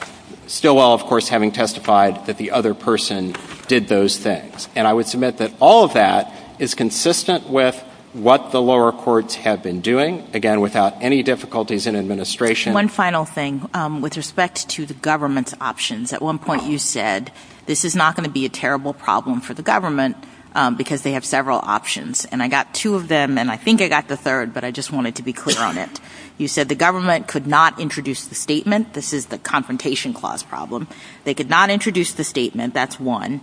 Stillwell, of course, having testified that the other person did those things. And I would submit that all of that is consistent with what the lower courts have been doing, again, without any difficulties in administration. One final thing. With respect to the government's options, at one point you said, this is not going to be a terrible problem for the government because they have several options. And I got two of them, and I think I got the third, but I just wanted to be clear on it. You said the government could not introduce the statement. This is the Confrontation Clause problem. They could not introduce the statement. That's one.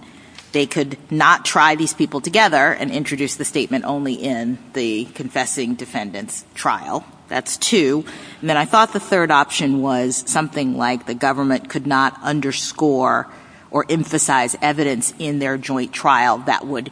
They could not try these people together and introduce the statement only in the confessing defendant's trial. That's two. And then I thought the third option was something like the government could not underscore or emphasize evidence in their joint trial that would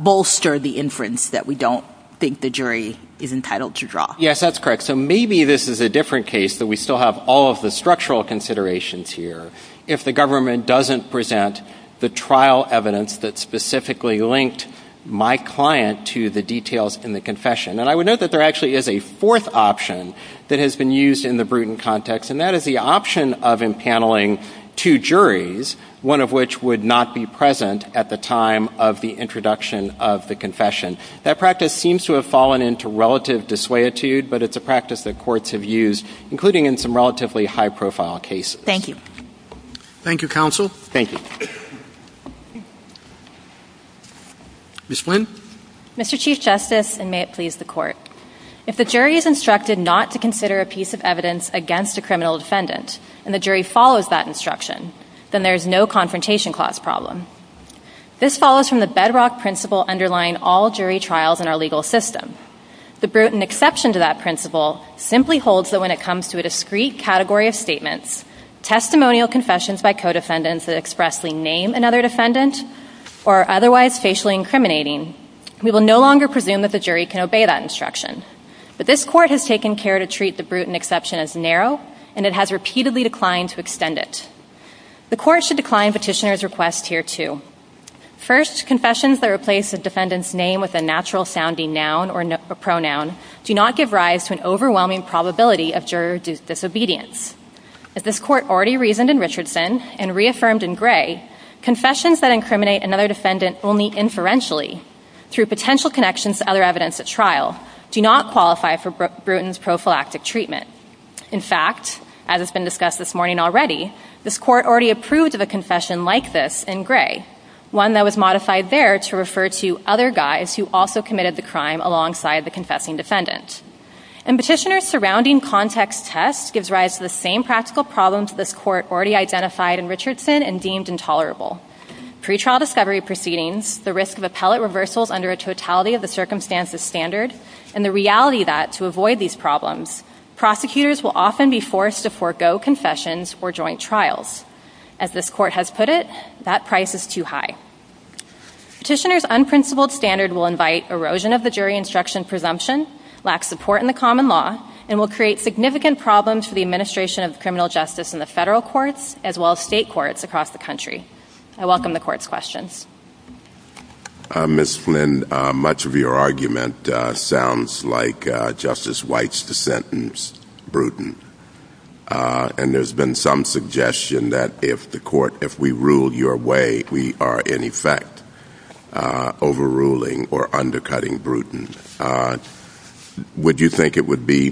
bolster the inference that we don't think the jury is entitled to draw. Yes, that's correct. So maybe this is a different case, that we still have all of the structural considerations here if the government doesn't present the trial evidence that specifically linked my client to the details in the confession. And I would note that there actually is a fourth option that has been used in the Bruton context, and that is the option of empaneling two juries, one of which would not be present at the time of the introduction of the confession. That practice seems to have fallen into relative dissuaditude, but it's a practice that courts have used, including in some relatively high-profile cases. Thank you. Thank you, counsel. Thank you. Ms. Flynn? Mr. Chief Justice, and may it please the Court, if the jury is instructed not to consider a piece of evidence against a criminal defendant, and the jury follows that instruction, then there is no confrontation clause problem. This follows from the bedrock principle underlying all jury trials in our legal system. The Bruton exception to that principle simply holds that when it comes to a discrete category of statements, testimonial confessions by co-defendants that expressly name another defendant or are otherwise facially incriminating, we will no longer presume that the jury can obey that instruction. But this Court has taken care to treat the Bruton exception as narrow, and it has repeatedly declined to extend it. The Court should decline Petitioner's request here, too. First, confessions that replace the defendant's name with a natural-sounding noun or pronoun do not give rise to an overwhelming probability of juror disobedience. As this Court already reasoned in Richardson and reaffirmed in Gray, confessions that incriminate another defendant only inferentially, through potential connections to other evidence at trial, do not qualify for Bruton's prophylactic treatment. In fact, as has been discussed this morning already, this Court already approved of a confession like this in Gray, one that was modified there to refer to other guys who also committed the crime alongside the confessing defendant. And Petitioner's surrounding context test gives rise to the same practical problems this Court already identified in Richardson and deemed intolerable. Pretrial discovery proceedings, the risk of appellate reversals under a totality-of-the-circumstances standard, and the reality that, to avoid these problems, prosecutors will often be forced to forego confessions or joint trials. As this Court has put it, that price is too high. Petitioner's unprincipled standard will invite erosion of the jury instruction presumption, lack support in the common law, and will create significant problems for the administration of criminal justice in the federal courts as well as state courts across the country. I welcome the Court's questions. Ms. Flynn, much of your argument sounds like Justice White's dissent in Bruton. And there's been some suggestion that if the Court, if we rule your way, if we are, in effect, overruling or undercutting Bruton, would you think it would be,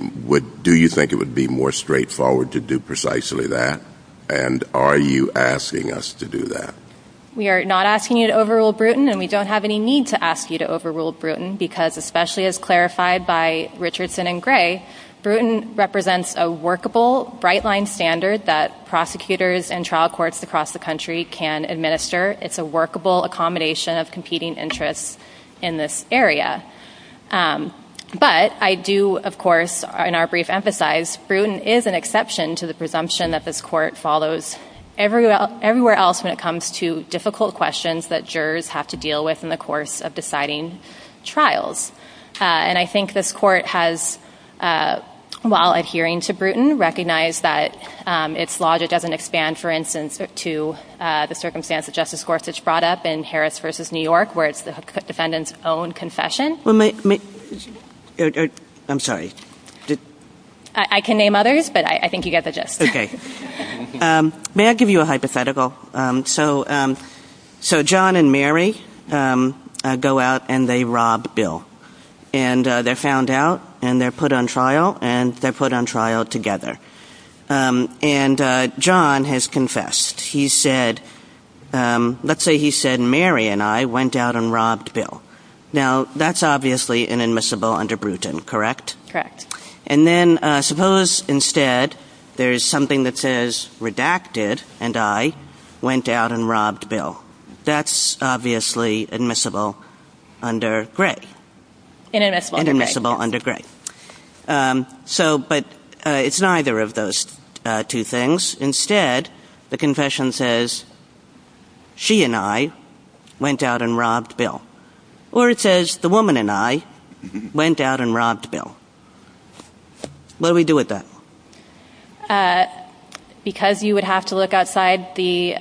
do you think it would be more straightforward to do precisely that? And are you asking us to do that? We are not asking you to overrule Bruton, and we don't have any need to ask you to overrule Bruton because, especially as clarified by Richardson and Gray, Bruton represents a workable, bright-line standard that prosecutors and trial courts across the country can administer. It's a workable accommodation of competing interests in this area. But I do, of course, in our brief, emphasize Bruton is an exception to the presumption that this Court follows everywhere else when it comes to difficult questions that jurors have to deal with in the course of deciding trials. And I think this Court has, while adhering to Bruton, recognized that its logic doesn't expand, for instance, to the circumstance that Justice Gorsuch brought up in Harris v. New York, where it's the defendant's own confession. I'm sorry. I can name others, but I think you get the gist. Okay. May I give you a hypothetical? So John and Mary go out, and they rob Bill. And they're found out, and they're put on trial, and they're put on trial together. And John has confessed. He said, let's say he said, Mary and I went out and robbed Bill. Now, that's obviously inadmissible under Bruton, correct? Correct. And then suppose, instead, there's something that says, Redacted and I went out and robbed Bill. That's obviously admissible under Gray. Inadmissible under Gray. Inadmissible under Gray. But it's neither of those two things. Instead, the confession says, She and I went out and robbed Bill. Or it says, The woman and I went out and robbed Bill. What do we do with that? Because you would have to look outside the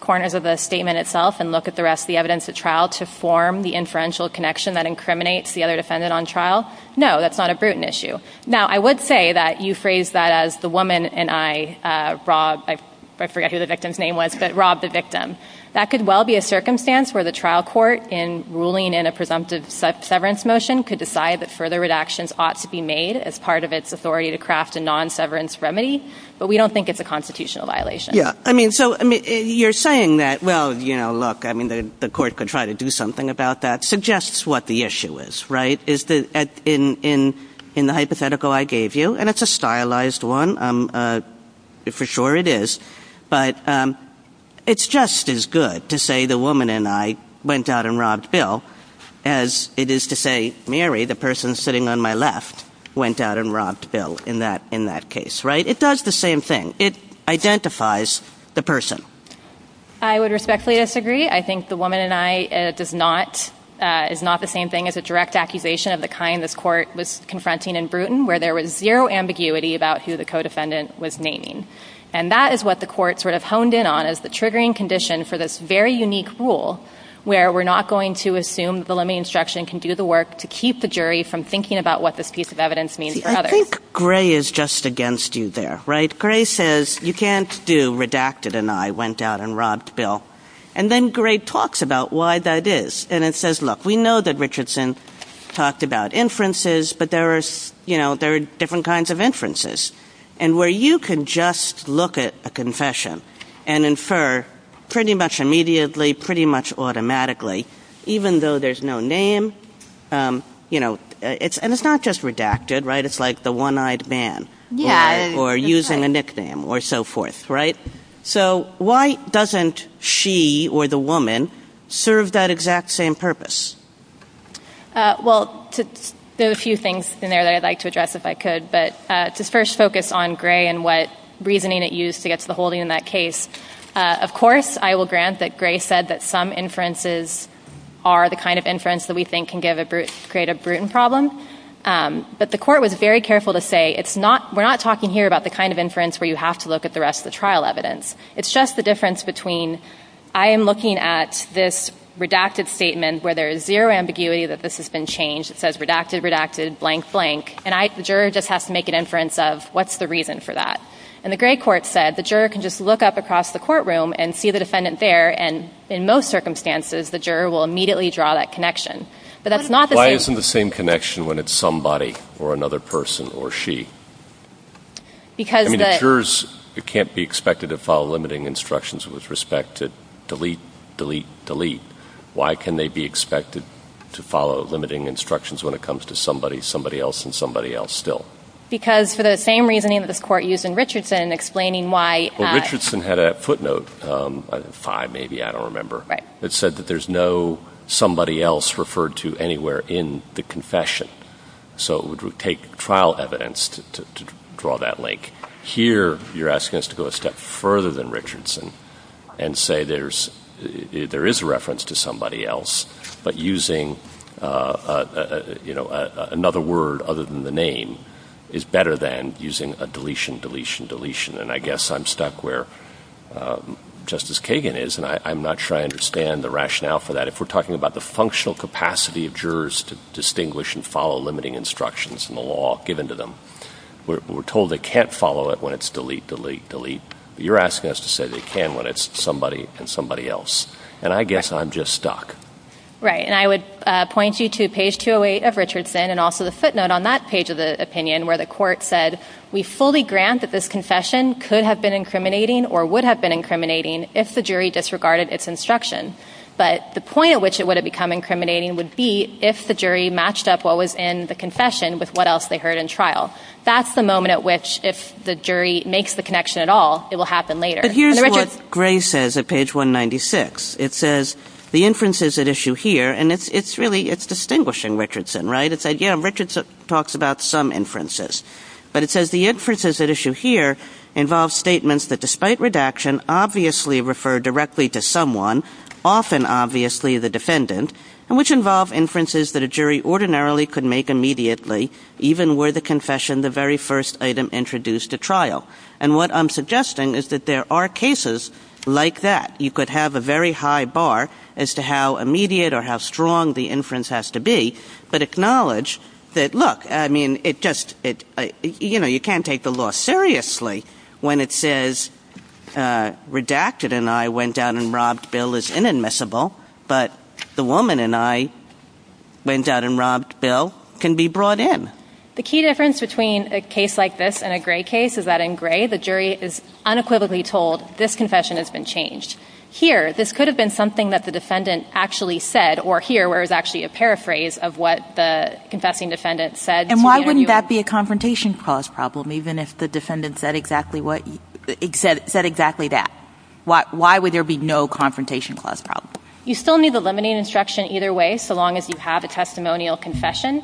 corners of the statement itself and look at the rest of the evidence at trial to form the inferential connection that incriminates the other defendant on trial? No, that's not a Bruton issue. Now, I would say that you phrased that as the woman and I robbed, I forget who the victim's name was, but robbed the victim. That could well be a circumstance where the trial court, in ruling in a presumptive severance motion, could decide that further redactions ought to be made as part of its authority to craft a non-severance remedy, but we don't think it's a constitutional violation. Yeah. I mean, so you're saying that, well, you know, look, I mean, the court could try to do something about that, suggests what the issue is, right? In the hypothetical I gave you, and it's a stylized one, for sure it is, but it's just as good to say the woman and I went out and robbed Bill as it is to say Mary, the person sitting on my left, went out and robbed Bill in that case, right? It does the same thing. It identifies the person. I would respectfully disagree. I think the woman and I does not, is not the same thing as a direct accusation of the kind this court was confronting in Bruton, where there was zero ambiguity about who the co-defendant was naming, and that is what the court sort of honed in on as the triggering condition for this very unique rule where we're not going to assume the limiting instruction can do the work to keep the jury from thinking about what this piece of evidence means for others. I think Gray is just against you there, right? Gray says you can't do redacted and I went out and robbed Bill, and then Gray talks about why that is, and it says, look, we know that Richardson talked about inferences, but there are different kinds of inferences, and where you can just look at a confession and infer pretty much immediately, pretty much automatically, even though there's no name, and it's not just redacted, right? It's like the one-eyed man or using a nickname or so forth, right? So why doesn't she or the woman serve that exact same purpose? Well, there are a few things in there that I'd like to address if I could, but to first focus on Gray and what reasoning it used to get to the holding in that case, of course I will grant that Gray said that some inferences are the kind of inference that we think can create a Bruton problem, but the court was very careful to say we're not talking here about the kind of inference where you have to look at the rest of the trial evidence. It's just the difference between I am looking at this redacted statement where there is zero ambiguity that this has been changed. It says redacted, redacted, blank, blank, and the juror just has to make an inference of what's the reason for that. And the Gray court said the juror can just look up across the courtroom and see the defendant there, and in most circumstances, the juror will immediately draw that connection. But that's not the same... Why isn't the same connection when it's somebody or another person or she? I mean, jurors can't be expected to follow limiting instructions with respect to delete, delete, delete. Why can they be expected to follow limiting instructions when it comes to somebody, somebody else, and somebody else still? Because for the same reasoning that this court used in Richardson, explaining why... Well, Richardson had a footnote, five maybe, I don't remember, that said that there's no somebody else referred to anywhere in the confession. So it would take trial evidence to draw that link. Here, you're asking us to go a step further than Richardson and say there is a reference to somebody else, but using another word other than the name is better than using a deletion, deletion, deletion. And I guess I'm stuck where Justice Kagan is, and I'm not sure I understand the rationale for that. If we're talking about the functional capacity of jurors to distinguish and follow limiting instructions in the law given to them, we're told they can't follow it when it's delete, delete, delete. You're asking us to say they can when it's somebody and somebody else, and I guess I'm just stuck. Right, and I would point you to page 208 of Richardson and also the footnote on that page of the opinion where the court said we fully grant that this confession could have been incriminating or would have been incriminating if the jury disregarded its instruction. But the point at which it would have become incriminating would be if the jury matched up what was in the confession with what else they heard in trial. That's the moment at which if the jury makes the connection at all, it will happen later. But here's what Gray says at page 196. It says the inferences at issue here, and it's really distinguishing Richardson, right? It said, yeah, Richardson talks about some inferences, but it says the inferences at issue here involve statements that despite redaction obviously refer directly to someone, often obviously the defendant, and which involve inferences that a jury ordinarily could make immediately even were the confession the very first item introduced to trial. And what I'm suggesting is that there are cases like that. You could have a very high bar as to how immediate or how strong the inference has to be, but acknowledge that, look, I mean, it just, you know, you can't take the law seriously when it says redacted and I went down and robbed Bill is inadmissible, but the woman and I went down and robbed Bill can be brought in. The key difference between a case like this and a Gray case is that in Gray, the jury is unequivocally told this confession has been changed. Here, this could have been something that the defendant actually said, or here where it's actually a paraphrase of what the confessing defendant said. And why wouldn't that be a confrontation clause problem even if the defendant said exactly that? Why would there be no confrontation clause problem? You still need the limiting instruction either way so long as you have a testimonial confession.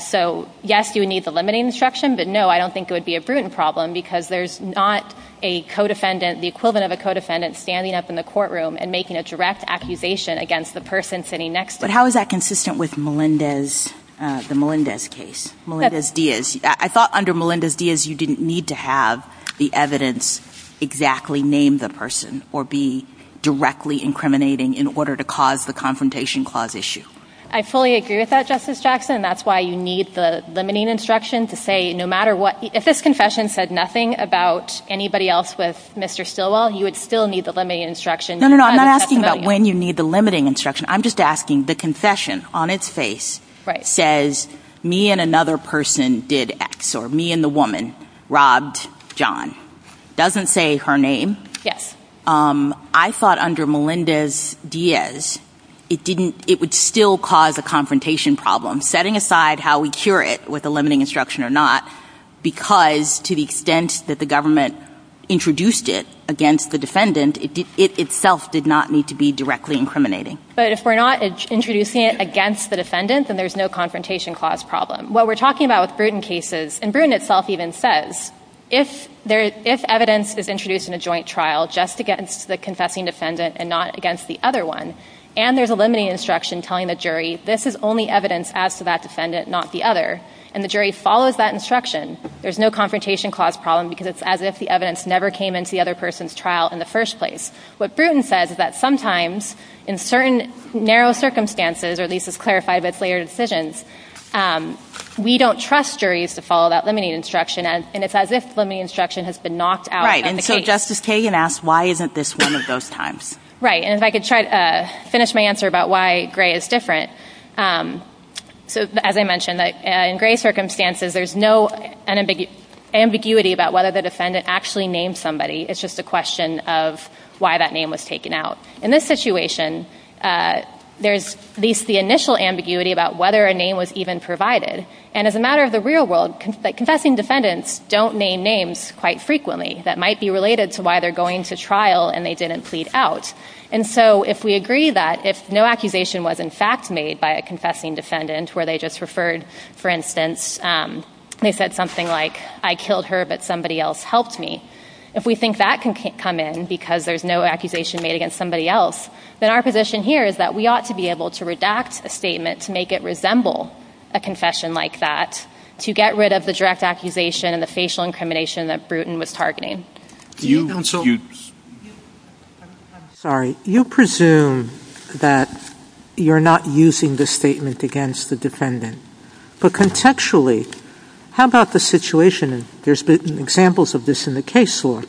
So, yes, you would need the limiting instruction, but no, I don't think it would be a prudent problem because there's not a co-defendant, the equivalent of a co-defendant, standing up in the courtroom and making a direct accusation against the person sitting next to them. But how is that consistent with Melendez, the Melendez case, Melendez-Diaz? I thought under Melendez-Diaz, you didn't need to have the evidence exactly name the person or be directly incriminating in order to cause the confrontation clause issue. I fully agree with that, Justice Jackson, and that's why you need the limiting instruction to say no matter what... If this confession said nothing about anybody else with Mr Stilwell, you would still need the limiting instruction. No, no, no, I'm not asking about when you need the limiting instruction. I'm just asking the confession on its face says, me and another person did X, or me and the woman robbed John. It doesn't say her name. Yes. I thought under Melendez-Diaz, it would still cause a confrontation problem. Setting aside how we cure it with a limiting instruction or not, because to the extent that the government introduced it against the defendant, it itself did not need to be directly incriminating. But if we're not introducing it against the defendant then there's no confrontation clause problem. What we're talking about with Bruton cases, and Bruton itself even says, if evidence is introduced in a joint trial just against the confessing defendant and not against the other one, and there's a limiting instruction telling the jury this is only evidence as to that defendant, not the other, and the jury follows that instruction, there's no confrontation clause problem because it's as if the evidence never came into the other person's trial in the first place. What Bruton says is that sometimes in certain narrow circumstances, or at least it's clarified that it's later decisions, we don't trust juries to follow that limiting instruction and it's as if the limiting instruction has been knocked out. Right. And so Justice Kagan asks, why isn't this one of those times? Right. And if I could try to finish my answer about why Gray is different. As I mentioned, in Gray circumstances, there's no ambiguity about whether the defendant actually named somebody. It's just a question of why that name was taken out. In this situation, there's at least the initial ambiguity about whether a name was even provided. And as a matter of the real world, confessing defendants don't name names quite frequently that might be related to why they're going to trial and they didn't plead out. And so if we agree that if no accusation was in fact made by a confessing defendant where they just referred, for instance, they said something like, I killed her but somebody else helped me, if we think that can come in because there's no accusation made against somebody else, then our position here is that we ought to be able to redact a statement to make it resemble a confession like that to get rid of the direct accusation and the facial incrimination that Bruton was targeting. I'm sorry. You presume that you're not using the statement against the defendant. But contextually, how about the situation? There's been examples of this in the case law.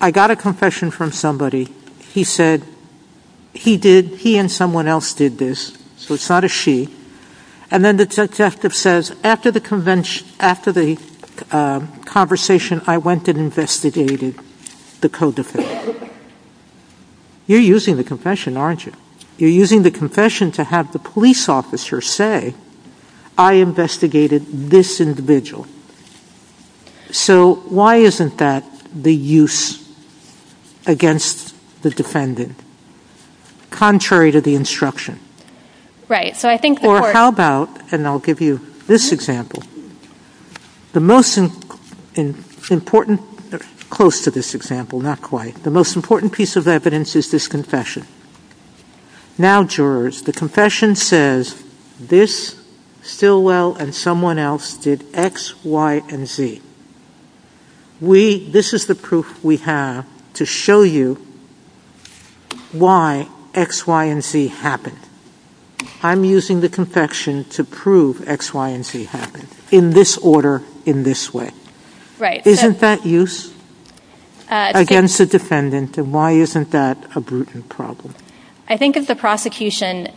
I got a confession from somebody. He said he and someone else did this. So it's not a she. And then the detective says, after the conversation, I went and investigated the co-defendant. You're using the confession, aren't you? You're using the confession to have the police officer say, I investigated this individual. So why isn't that the use against the defendant? Contrary to the instruction. Or how about, and I'll give you this example, the most important piece of evidence is this confession. Now, jurors, the confession says, this Stilwell and someone else did X, Y, and Z. This is the proof we have to show you why X, Y, and Z happened. I'm using the confession to prove X, Y, and Z happened, in this order, in this way. Isn't that use against the defendant? And why isn't that a Bruton problem? I think if the prosecution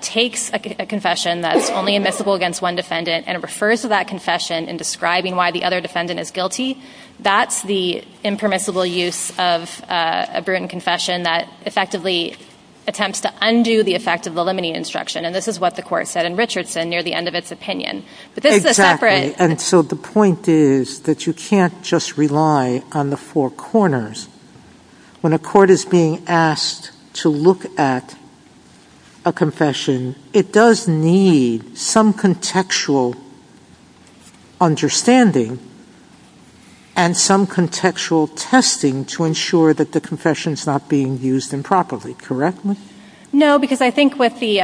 takes a confession that's only admissible against one defendant and refers to that confession in describing why the other defendant is guilty, that's the impermissible use of a Bruton confession that effectively attempts to undo the effect of the limiting instruction. And this is what the court said in Richardson near the end of its opinion. Exactly. And so the point is that you can't just rely on the four corners. When a court is being asked to look at a confession, it does need some contextual understanding and some contextual testing to ensure that the confession's not being used improperly. Correct? No, because I think with the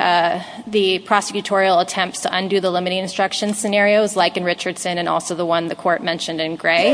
prosecutorial attempt to undo the limiting instruction scenarios, like in Richardson and also the one the court mentioned in Gray,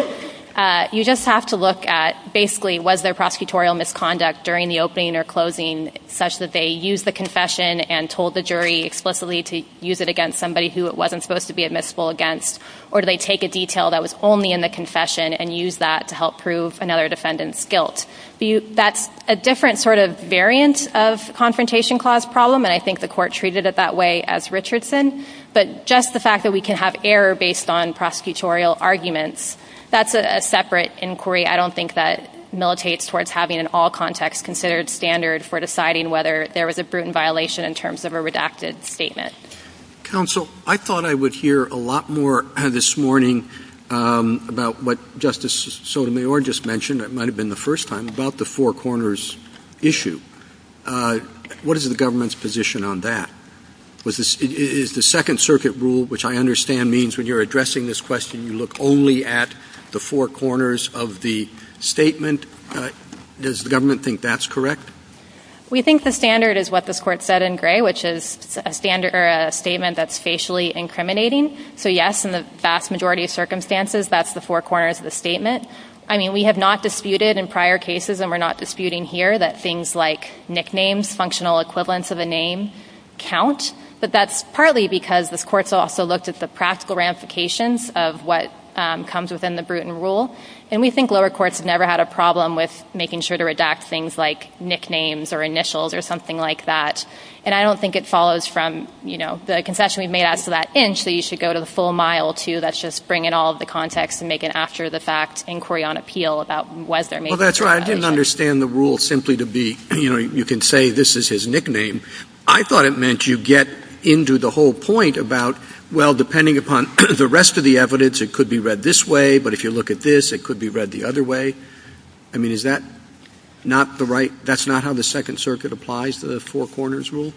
you just have to look at, basically, was there prosecutorial misconduct during the opening or closing such that they used the confession and told the jury explicitly to use it against somebody who it wasn't supposed to be admissible against? Or do they take a detail that was only in the confession and use that to help prove another defendant's guilt? That's a different sort of variant of confrontation clause problem. And I think the court treated it that way as Richardson. But just the fact that we can have error based on prosecutorial arguments, that's a separate inquiry. I don't think that militates towards having an all context considered standard for deciding whether there was a brutal violation in terms of a redacted statement. Counsel, I thought I would hear a lot more this morning about what Justice Sotomayor just mentioned. That might have been the first time, about the four corners issue. What is the government's position on that? Is the Second Circuit rule, which I understand means when you're addressing this question, you look only at the four corners of the statement. Does the government think that's correct? We think the standard is what this court said in gray, which is a statement that's facially incriminating. So yes, in the vast majority of circumstances, that's the four corners of the statement. I mean, we have not disputed in prior cases, and we're not disputing here, that things like nicknames, functional equivalents of a name, count. But that's partly because this court's also looked at the practical ramifications of what comes within the Bruton rule. And we think lower courts have never had a problem with making sure to redact things like nicknames, or initials, or something like that. And I don't think it follows from the concession we've made after that inch that you should go to the full mile, too. That's just bringing all of the context and making it after the fact inquiry on appeal about whether or not there was a violation. Well, that's right. I didn't understand the rule simply to be, you can say this is his nickname. I thought it meant you get into the whole point about, well, depending upon the rest of the evidence, it could be read this way. But if you look at this, it could be read the other way. I mean, is that not the right? That's not how the Second Circuit applies to the Four Corners rule?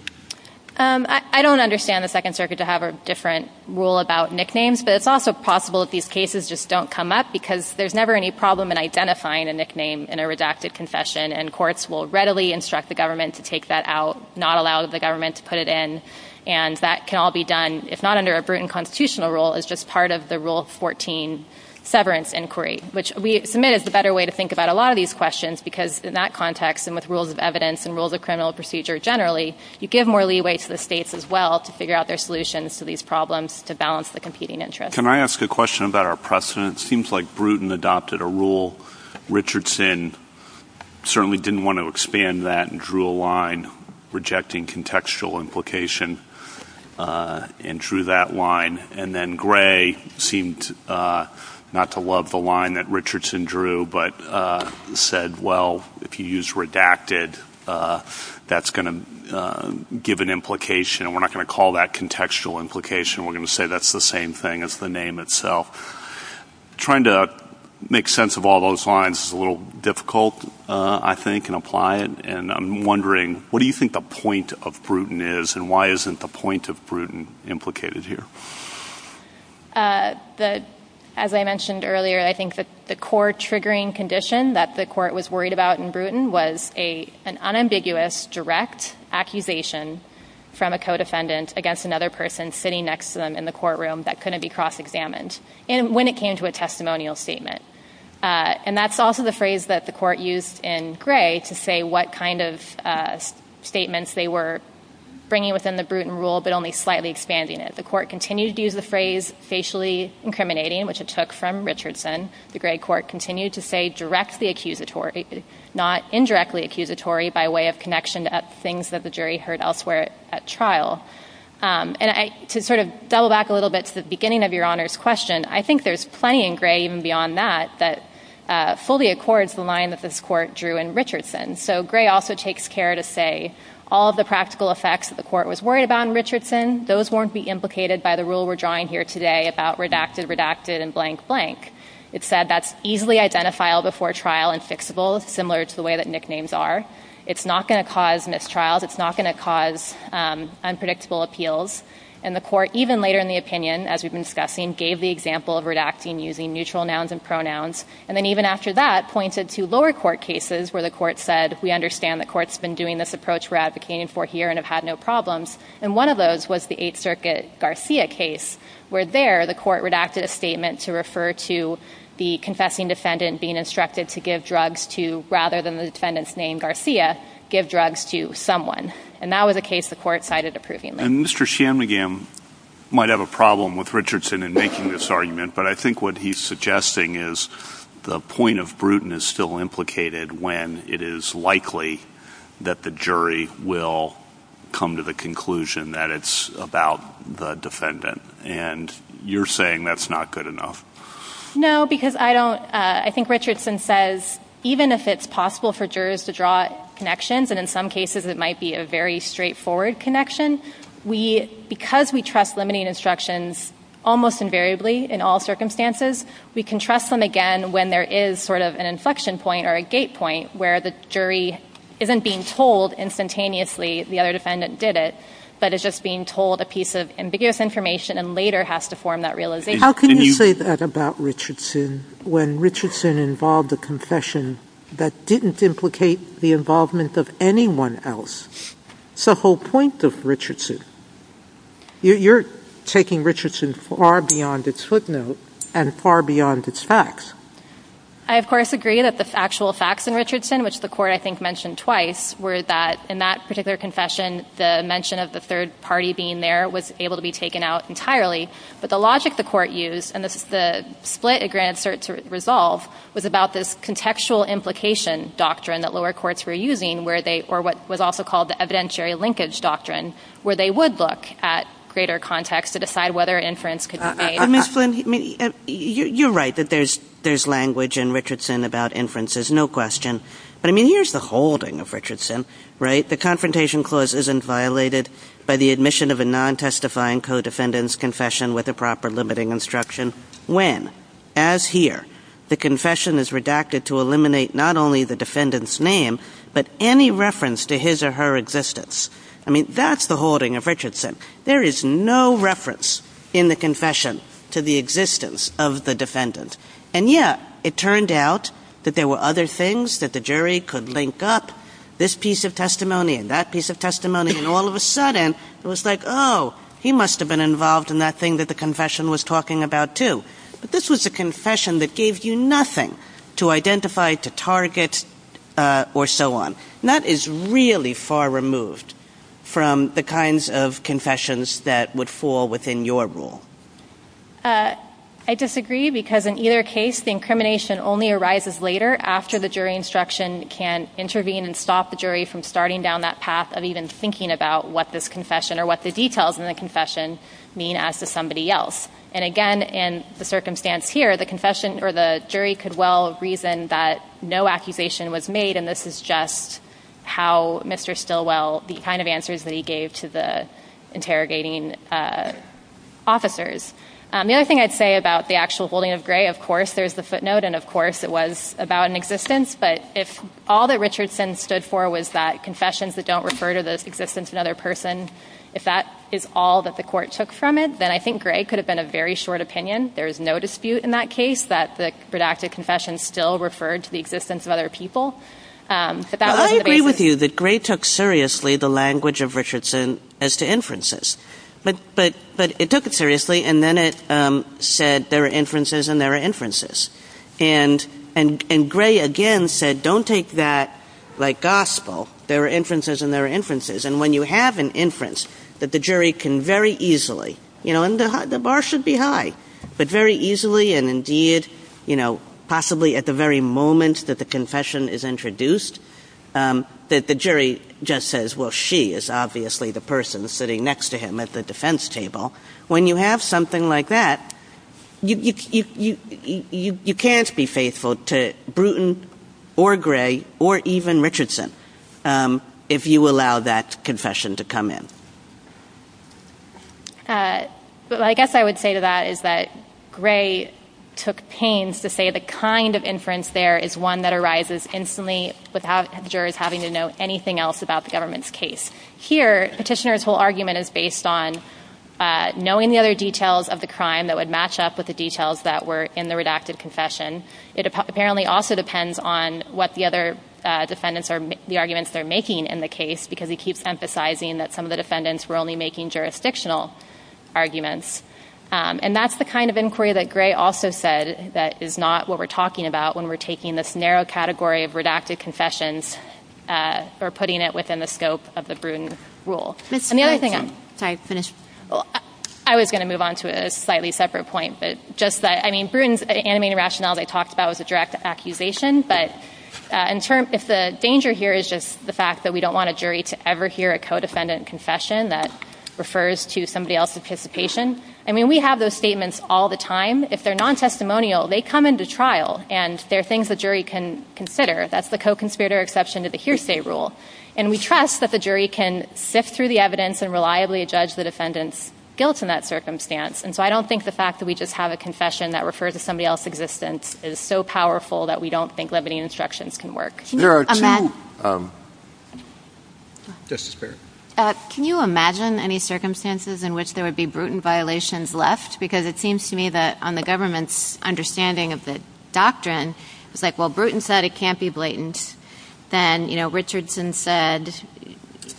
I don't understand the Second Circuit to have a different rule about nicknames. But it's also possible that these cases just don't come up, because there's never any problem in identifying a nickname in a redacted concession. And courts will readily instruct the government to take that out, not allow the government to put it in. And that can all be done. If not under a Bruton constitutional rule, it's just part of the Rule 14 severance inquiry, which we submit is a better way to think about a lot of these questions. Because in that context, and with rules of evidence and rules of criminal procedure generally, you give more leeway to the states as well to figure out their solutions to these problems to balance the competing interests. Can I ask a question about our precedents? Seems like Bruton adopted a rule. Richardson certainly didn't want to expand that and drew a line rejecting contextual implication and drew that line. And then Gray seemed not to love the line that Richardson drew, but said, well, if you use redacted, that's going to give an implication. And we're not going to call that contextual implication. We're going to say that's the same thing as the name itself. Trying to make sense of all those lines is a little difficult, I think, and apply it. And I'm wondering, what do you think the point of Bruton is, and why isn't the point of Bruton implicated here? As I mentioned earlier, I think the core triggering condition that the court was worried about in Bruton was an unambiguous direct accusation from a co-defendant against another person sitting next to them in the courtroom that couldn't be cross-examined when it came to a testimonial statement. And that's also the phrase that the court used in Gray to say what kind of statements they were bringing within the Bruton rule, but only slightly expanding it. The court continued to use the phrase, facially incriminating, which it took from Richardson. The Gray court continued to say, directly accusatory, not indirectly accusatory by way of connection to things that the jury heard elsewhere at trial. And to sort of double back a little bit to the beginning of Your Honor's question, I think there's plenty in Gray, even beyond that, that fully accords the line that this court drew in Richardson. So Gray also takes care to say, all the practical effects that the court was worried about in Richardson, those won't be implicated by the rule we're drawing here today about redacted, redacted, and blank, blank. It said that's easily identifiable before trial and fixable, similar to the way that nicknames are. It's not going to cause mistrials. It's not going to cause unpredictable appeals. And the court, even later in the opinion, as we've been discussing, gave the example of redacting using neutral nouns and pronouns. And then even after that, pointed to lower court cases where the court said, we understand the court's been doing this approach we're advocating for here and have had no problems. And one of those was the Eighth Circuit Garcia case, where there the court redacted a statement to refer to the confessing defendant being instructed to give drugs to, rather than the defendant's name, Garcia, give drugs to someone. And that was a case the court cited approvingly. And Mr. Shanmugam might have a problem with Richardson in making this argument. But I think what he's suggesting is the point of Bruton is still implicated when it is likely that the jury will come to the conclusion that it's about the defendant. And you're saying that's not good enough. No, because I think Richardson says, even if it's possible for jurors to draw connections, and in some cases it might be a very straightforward connection, because we trust limiting instructions almost invariably in all circumstances. We can trust them again when there is sort of an inflection point or a gate point where the jury isn't being told instantaneously the other defendant did it, but is just being told a piece of ambiguous information and later has to form that realization. How can you say that about Richardson when Richardson involved a confession that didn't implicate the involvement of anyone else? That's the whole point of Richardson. You're taking Richardson far beyond its footnote and far beyond its facts. I, of course, agree that the factual facts in Richardson, which the court, I think, mentioned twice, were that in that particular confession, the mention of the third party being there was able to be taken out entirely. But the logic the court used and the split it granted cert to resolve was about this contextual implication doctrine that lower courts were using, or what was also called the evidentiary linkage doctrine, where they would look at greater context to decide whether inference could be made. Ms. Flynn, you're right that there's language in Richardson about inferences, no question. But, I mean, here's the holding of Richardson, right? The Confrontation Clause isn't violated by the admission of a non-testifying codefendant's confession with a proper limiting instruction when, as here, the confession is redacted to eliminate not only the defendant's name, but any reference to his or her existence. I mean, that's the holding of Richardson. There is no reference in the confession to the existence of the defendant. And yet, it turned out that there were other things that the jury could link up. This piece of testimony and that piece of testimony, and all of a sudden, it was like, oh, he must have been involved in that thing that the confession was talking about, too. But this was a confession that gave you nothing to identify, to target, or so on. And that is really far removed from the kinds of confessions that would fall within your rule. I disagree, because in either case, the incrimination only arises later, after the jury instruction can intervene and stop the jury from starting down that path of even thinking about what this confession, or what the details in the confession, mean as to somebody else. And again, in the circumstance here, the jury could well reason that no accusation was made. And this is just how Mr. Stilwell, the kind of answers that he gave to the interrogating officers. The other thing I'd say about the actual holding of Gray, of course, there's the footnote. And of course, it was about an existence. But if all that Richardson stood for was that confessions that don't refer to the existence of another person, if that is all that the court took from it, then I think Gray could have been a very short opinion. There is no dispute in that case that the productive confession still referred to the existence of other people. I agree with you that Gray took seriously the language of Richardson as to inferences. But it took it seriously, and then it said there are inferences, and there are inferences. And Gray, again, said don't take that like gospel. There are inferences, and there are inferences. And when you have an inference that the jury can very easily, and the bar should be high, but very easily, and indeed possibly at the very moment that the confession is introduced, that the jury just says, well, she is obviously the person sitting next to him at the defense table. When you have something like that, you can't be faithful to Bruton or Gray or even Richardson if you allow that confession to come in. But I guess I would say to that is that Gray took pains to say the kind of inference there is one that arises instantly without jurors having to know anything else about the government's case. Here, Petitioner's whole argument is based on knowing the other details of the crime that would match up with the details that were in the redacted confession. It apparently also depends on what the other defendants or the arguments they're making in the case, because he keeps emphasizing that some of the defendants were only making jurisdictional arguments. And that's the kind of inquiry that Gray also said that is not what we're talking about when we're taking this narrow category of redacted confessions or putting it within the scope of the Bruton rule. I was going to move on to a slightly separate point. I mean, Bruton's animated rationale they talked about was a direct accusation. But if the danger here is just the fact that we don't want a jury to ever hear a co-defendant confession that refers to somebody else's participation, I mean, we have those statements all the time. If they're non-testimonial, they come into trial. And they're things the jury can consider. That's the co-conspirator exception to the hearsay rule. And we trust that the jury can sift through the evidence and reliably judge the defendant's guilt in that circumstance. And so I don't think the fact that we just have a confession that refers to somebody else's existence is so powerful that we don't think limiting instructions can work. Can you imagine any circumstances in which there would be Bruton violations left? Because it seems to me that on the government's understanding of the doctrine, it's like, well, Bruton said it can't be blatant. Then Richardson said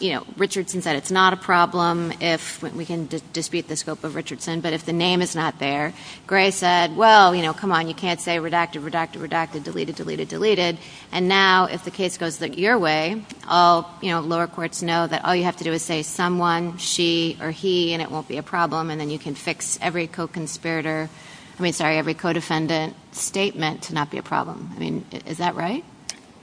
it's not a problem if we can dispute the scope of Richardson. But if the name is not there, Gray said, well, come on. You can't say redacted, redacted, redacted, deleted, deleted, deleted. And now if the case goes your way, all lower courts know that all you have to do is say someone, she, or he, and it won't be a problem. And then you can fix every co-conspirator, I mean, sorry, every co-defendant statement to not be a problem. I mean, is that right?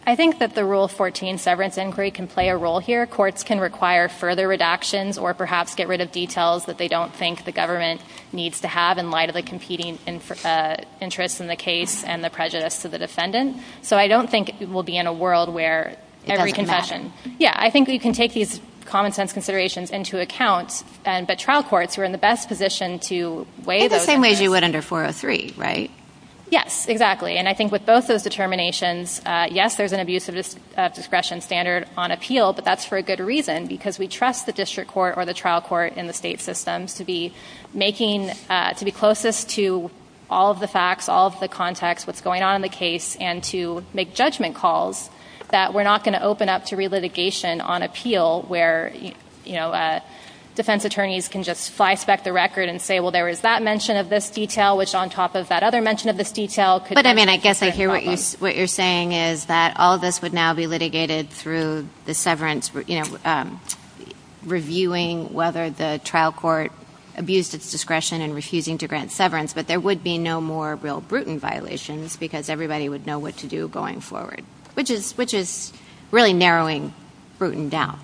I think that the Rule 14 severance inquiry can play a role here. Courts can require further redactions or perhaps get rid of details that they don't think the government needs to have in light of the competing interests in the case and the prejudice to the defendant. So I don't think we'll be in a world where every confession, yeah, I think we can take these common sense considerations into account. But trial courts are in the best position to weigh those. In the same way as you would under 403, right? Yes, exactly. And I think with both those determinations, yes, there's an abuse of discretion standard on appeal. But that's for a good reason. Because we trust the district court or the trial court in the state system to be making, to be closest to all of the facts, all of the context, what's going on in the case, and to make judgment calls that we're not going to open up to relitigation on appeal where defense attorneys can just flyspeck the record and say, well, there is that mention of this detail, which on top of that other mention of this detail could be a problem. But I mean, I guess I hear what you're saying is that all of this would now be litigated through the severance reviewing whether the trial court abused its discretion in refusing to grant severance. But there would be no more real Bruton violations because everybody would know what to do going forward, which is really narrowing Bruton down.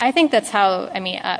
I think that's how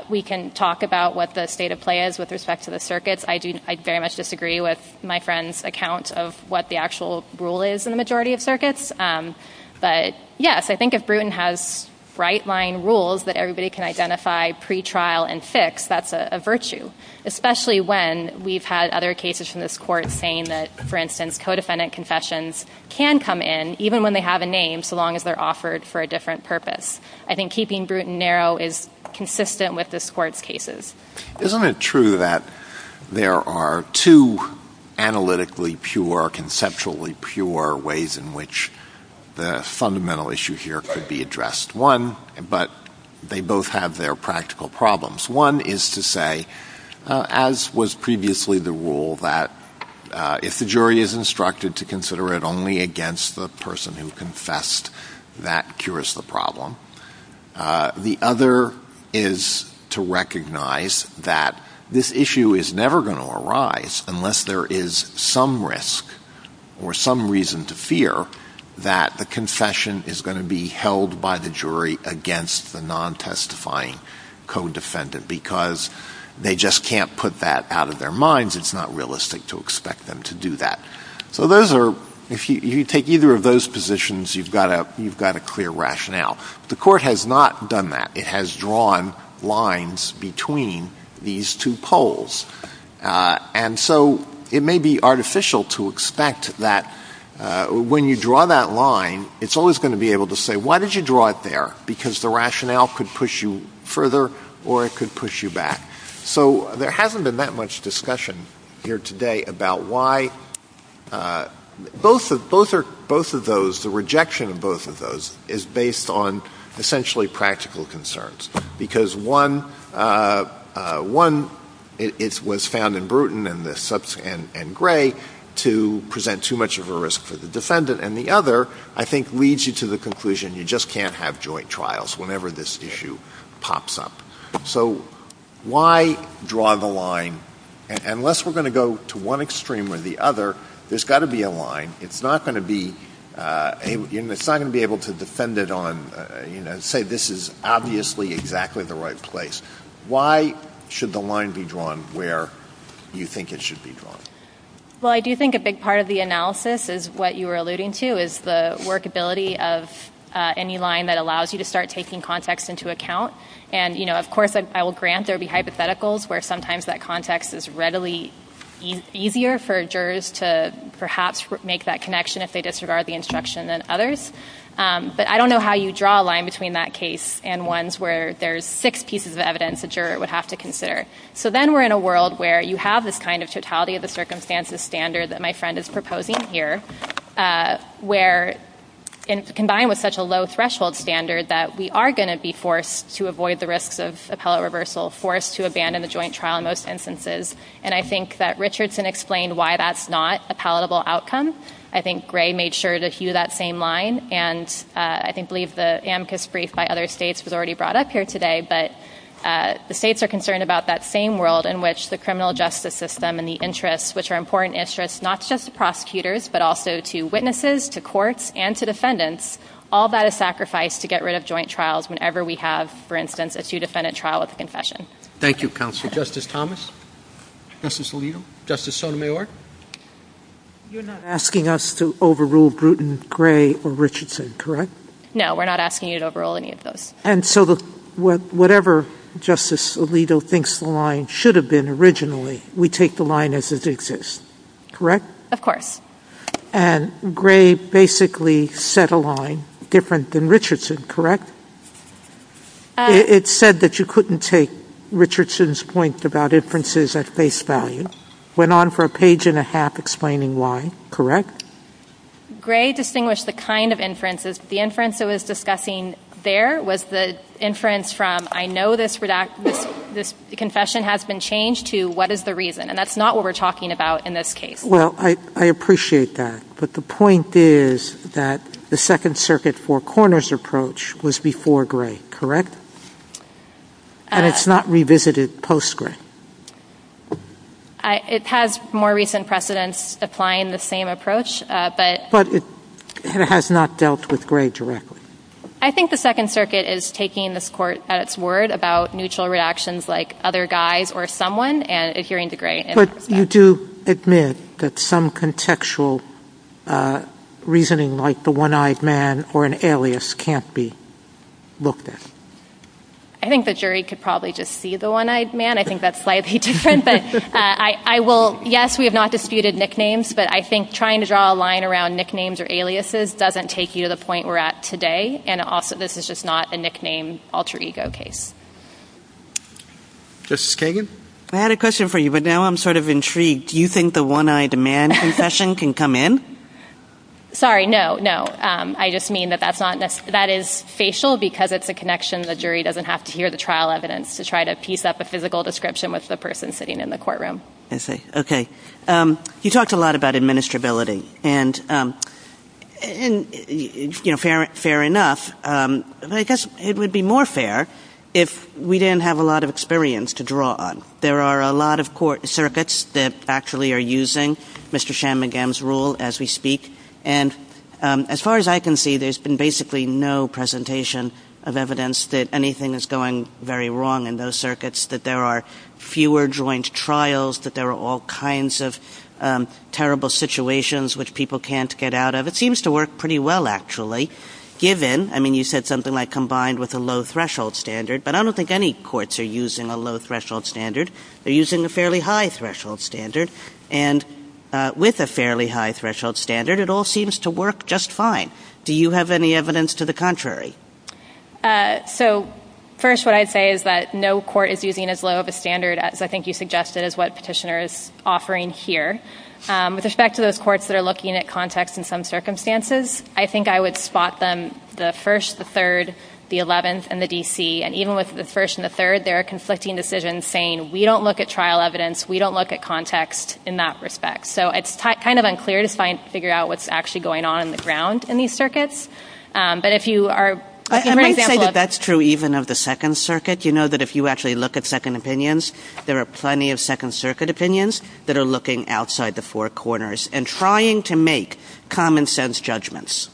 we can talk about what the state of play is with respect to the circuits. I very much disagree with my friend's account of what the actual rule is in the majority of circuits. But yes, I think if Bruton has right-line rules that everybody can identify pre-trial and six, that's a virtue, especially when we've had other cases from this court saying that, for instance, co-defendant confessions can come in, even when they have a name, so long as they're offered for a different purpose. I think keeping Bruton narrow is consistent with this court's cases. Isn't it true that there are two analytically pure, conceptually pure ways in which the fundamental issue here could be addressed? One, but they both have their practical problems. One is to say, as was previously the rule, that if the jury is instructed to consider it only against the person who confessed, that cures the problem. The other is to recognize that this issue is never going to arise unless there is some risk or some reason to fear that the confession is going to be held by the jury against the non-testifying co-defendant, because they just can't put that out of their minds. It's not realistic to expect them to do that. So if you take either of those positions, you've got a clear rationale. The court has not done that. It has drawn lines between these two poles. And so it may be artificial to expect that when you draw that line, it's always going to be able to say, why did you draw it there? Because the rationale could push you further, or it could push you back. So there hasn't been that much discussion here today about why both of those, the rejection of both of those, is based on essentially practical concerns. Because one, it was found in Bruton and Gray to present too much of a risk for the defendant. And the other, I think, leads you to the conclusion you just can't have joint trials whenever this issue pops up. So why draw the line? Unless we're going to go to one extreme or the other, there's got to be a line. It's not going to be able to defend it on, say this is obviously exactly the right place. Why should the line be drawn where you think it should be drawn? Well, I do think a big part of the analysis is what you were alluding to, is the workability of any line that allows you to start taking context into account. And of course, I will grant there will be hypotheticals where sometimes that context is readily easier for jurors to perhaps make that connection if they disregard the instruction than others. But I don't know how you draw a line between that case and ones where there's six pieces of evidence a juror would have to consider. So then we're in a world where you have this kind of totality of the circumstances standard that my friend is proposing here, where combined with such a low threshold standard that we are going to be forced to avoid the risks of a color reversal, forced to abandon a joint trial in most instances. And I think that Richardson explained why that's not a palatable outcome. I think Gray made sure to hew that same line. And I believe the amicus brief by other states was already brought up here today. But the states are concerned about that same world in which the criminal justice system and the interests, which are important interests, not just to prosecutors, but also to witnesses, to courts, and to defendants, all that is sacrificed to get rid of joint trials whenever we have, for instance, a two-defendant trial with a confession. Thank you, counsel. Justice Thomas? Justice Alito? Justice Sotomayor? You're not asking us to overrule Bruton, Gray, or Richardson, correct? No, we're not asking you to overrule any of those. And so whatever Justice Alito thinks the line should have been originally, we take the line as it exists, correct? Of course. And Gray basically set a line different than Richardson, correct? It said that you couldn't take Richardson's point about inferences at face value. Went on for a page and a half explaining why, correct? Gray distinguished the kind of inferences. The inference that was discussing there was the inference from, I know this confession has been changed to what is the reason? And that's not what we're talking about in this case. Well, I appreciate that. But the point is that the Second Circuit Four Corners approach was before Gray, correct? And it's not revisited post-Gray. It has more recent precedents applying the same approach, but... But it has not dealt with Gray directly. I think the Second Circuit is taking this court's word about neutral reactions like other guys or someone and adhering to Gray. But you do admit that some contextual reasoning like the one-eyed man or an alias can't be looked at? I think the jury could probably just see the one-eyed man. I think that's slightly different, but I will... Yes, we have not disputed nicknames, but I think trying to draw a line around nicknames or aliases doesn't take you to the point we're at today. And also, this is just not a nickname alter-ego case. Justice Kagan? I had a question for you, but now I'm sort of intrigued. Do you think the one-eyed man concussion can come in? Sorry, no, no. I just mean that that's not... That is facial because it's a connection. The jury doesn't have to hear the trial evidence to try to piece up a physical description with the person sitting in the courtroom. I see. OK. You talked a lot about administrability. And, you know, fair enough. But I guess it would be more fair if we didn't have a lot of experience to draw on. There are a lot of court circuits that actually are using Mr. Shanmugam's rule as we speak. And as far as I can see, there's been basically no presentation of evidence that anything is going very wrong in those circuits, that there are fewer joint trials, that there are all kinds of terrible situations which people can't get out of. It seems to work pretty well, actually, given, I mean, you said something like But I don't think any courts are using a low-threshold standard. They're using a fairly high-threshold standard. And with a fairly high-threshold standard, it all seems to work just fine. Do you have any evidence to the contrary? So, first, what I'd say is that no court is using as low of a standard as I think you suggested is what Petitioner is offering here. With respect to those courts that are looking at context in some circumstances, I think I would spot them, the 1st, the 3rd, the 11th, and the D.C., and even with the 1st and the 3rd, there are conflicting decisions saying we don't look at trial evidence, we don't look at context in that respect. So it's kind of unclear to figure out what's actually going on on the ground in these circuits. But if you are... I'm trying to say that that's true even of the 2nd Circuit. You know that if you actually look at second opinions, there are plenty of 2nd Circuit opinions that are looking outside the four corners and trying to make common-sense judgments.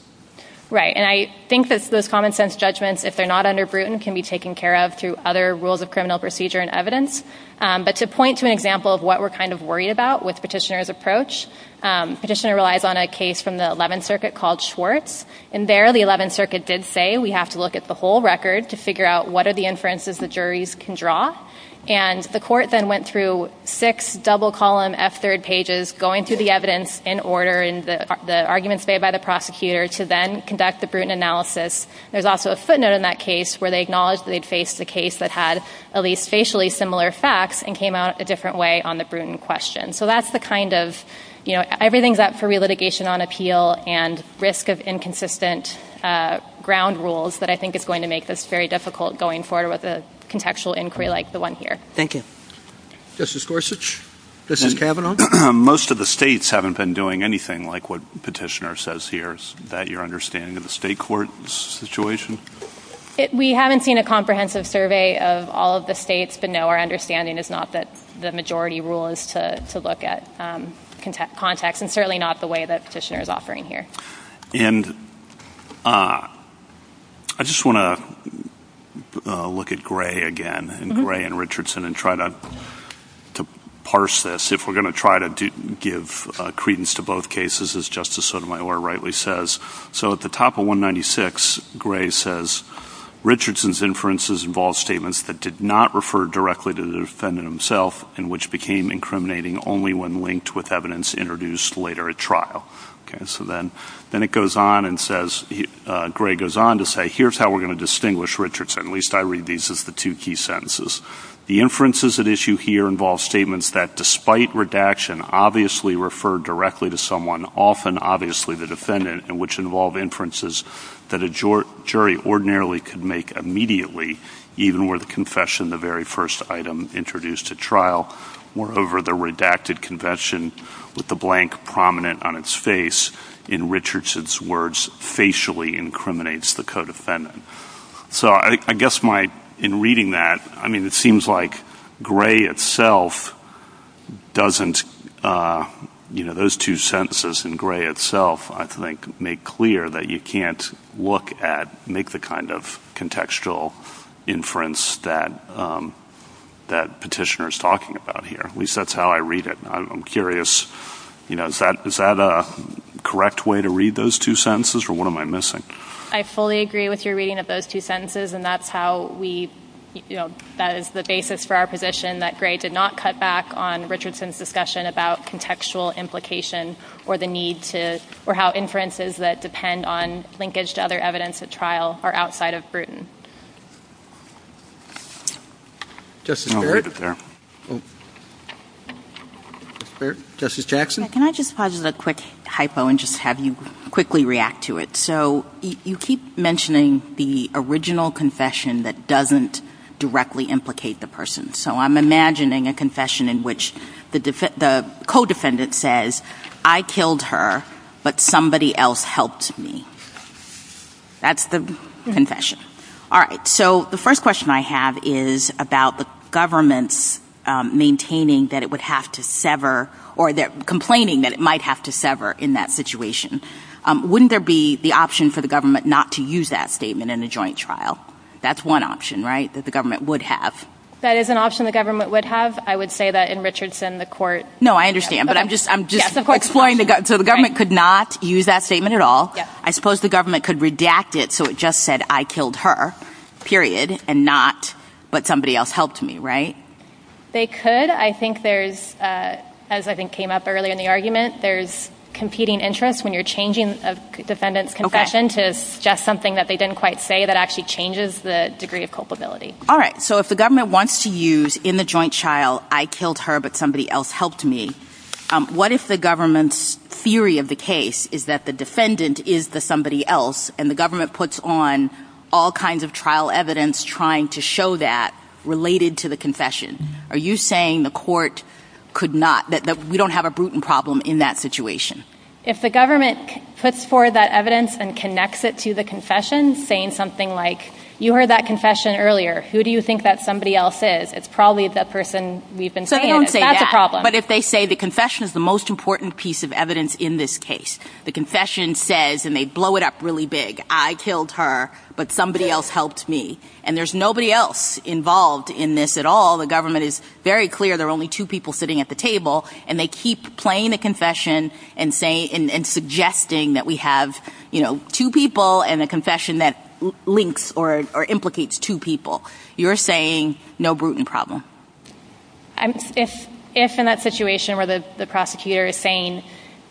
Right. And I think that those common-sense judgments, if they're not under Bruton, can be taken care of through other rules of criminal procedure and evidence. But to point to an example of what we're kind of worried about with Petitioner's approach, Petitioner relies on a case from the 11th Circuit called Schwartz. And there, the 11th Circuit did say we have to look at the whole record to figure out what are the inferences the juries can draw. And the court then went through six double-column F3 pages going through the evidence in order, and the arguments made by the prosecutors to then conduct the Bruton analysis. There's also a footnote in that case where they acknowledge that they'd faced a case that had at least facially similar facts and came out a different way on the Bruton question. So that's the kind of, you know, everything's up for relitigation on appeal and risk of inconsistent ground rules, but I think it's going to make this very difficult going forward with a contextual inquiry like the one here. Thank you. Justice Gorsuch? Justice Kavanaugh? Most of the states haven't been doing anything like what Petitioner says here. Is that your understanding of the state court situation? We haven't seen a comprehensive survey of all of the states, so no, our understanding is not that the majority rule is to look at context, and certainly not the way that Petitioner is offering here. And I just want to look at Gray again, and Gray and Richardson, and try to parse this. If we're going to try to give credence to both cases, as Justice Sotomayor rightly says, so at the top of 196, Gray says, Richardson's inferences involve statements that did not refer directly to the defendant himself and which became incriminating only when linked with evidence introduced later at trial. Okay, so then it goes on and says, Gray goes on to say, here's how we're going to distinguish Richardson. At least I read these as the two key sentences. The inferences at issue here involve statements that despite redaction obviously refer directly to someone, often obviously the defendant, and which involve inferences that a jury ordinarily could make immediately, even were the confession the very first item introduced at trial. Moreover, the redacted confession with the blank prominent on its face, in Richardson's words, facially incriminates the co-defendant. So I guess my, in reading that, I mean, it seems like Gray itself doesn't, you know, those two sentences in Gray itself, I think, make clear that you can't look at, make the kind of contextual inference that Petitioner's talking about here. At least that's how I read it. I'm curious, you know, is that a correct way to read those two sentences or what am I missing? I fully agree with your reading of those two sentences and that's how we, you know, that is the basis for our position that Gray did not cut back on Richardson's discussion about contextual implication or the need to, or how inferences that depend on linkage to other evidence at trial are outside of Bruton. Justice Baird? Justice Jackson? Can I just pause as a quick hypo and just have you quickly react to it? So you keep mentioning the original confession that doesn't directly implicate the person. So I'm imagining a confession in which the co-defendant says, I killed her, but somebody else helped me. That's the confession. All right. So the first question I have is about the government maintaining that it would have to sever or complaining that it might have to sever in that situation. Wouldn't there be the option for the government not to use that statement in the joint trial? That's one option, right, that the government would have. That is an option the government would have. I would say that in Richardson, the court... No, I understand, but I'm just explaining. So the government could not use that statement at all. I suppose the government could redact it so it just said, I killed her, period, and not, but somebody else helped me, right? They could. I think there's, as I think came up earlier in the argument, there's competing interests when you're changing a defendant's confession to suggest something that they didn't quite say that actually changes the degree of culpability. All right, so if the government wants to use in the joint trial, I killed her, but somebody else helped me, what if the government's theory of the case is that the defendant is the somebody else and the government puts on all kinds of trial evidence trying to show that related to the confession? Are you saying the court could not, that we don't have a Bruton problem in that situation? If the government puts forward that evidence and connects it to the confession, saying something like, you heard that confession earlier, who do you think that somebody else is? It's probably that person we've been seeing. It's not the problem. But if they say the confession is the most important piece of evidence in this case, the confession says, and they blow it up really big, I killed her, but somebody else helped me, and there's nobody else involved in this at all, the government is very clear there are only two people sitting at the table, and they keep playing the confession and suggesting that we have two people and a confession that links or implicates two people, you're saying no Bruton problem. If in that situation where the prosecutor is saying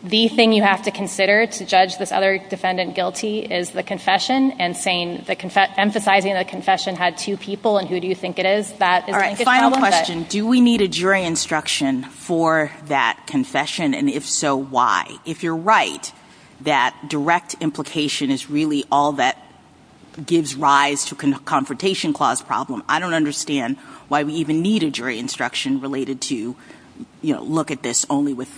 the thing you have to consider to judge this other defendant guilty is the confession and saying, emphasizing the confession had two people, and who do you think it is? Final question, do we need a jury instruction for that confession, and if so, why? If you're right that direct implication is really all that gives rise to a confrontation clause problem, I don't understand why we even need a jury instruction related to, look at this only with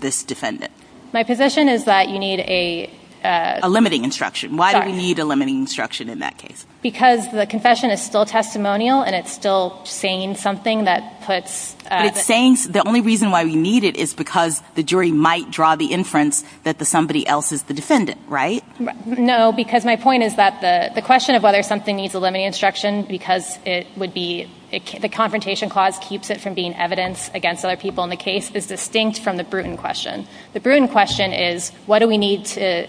this defendant. My position is that you need a... A limiting instruction. Why do we need a limiting instruction in that case? Because the confession is still testimonial and it's still saying something that puts... The only reason why we need it is because the jury might draw the inference that somebody else is the defendant, right? No, because my point is that the question of whether something needs a limiting instruction because it would be... The confrontation clause keeps it from being evidence against other people in the case is distinct from the Bruton question. The Bruton question is, what do we need to...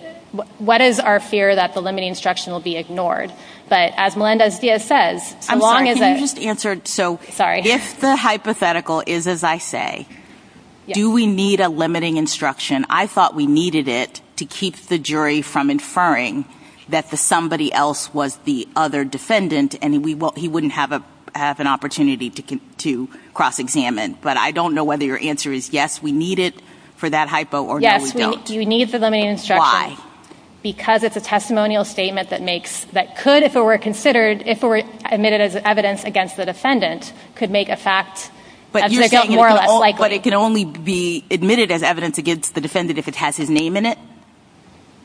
What is our fear that the limiting instruction will be ignored? But as Melinda Zia says, as long as it... I'm sorry, can you just answer... Sorry. do we need a limiting instruction? I thought we needed it to keep the jury from inferring that somebody else was the other defendant and he wouldn't have an opportunity to cross-examine. But I don't know whether your answer is yes, we need it for that hypo, or no, we don't. Yes, we need the limiting instruction. Why? Because it's a testimonial statement that makes... That could, if it were considered... If it were admitted as evidence against the defendant, could make a fact... But you're saying it can only be admitted as evidence against the defendant if it has his name in it?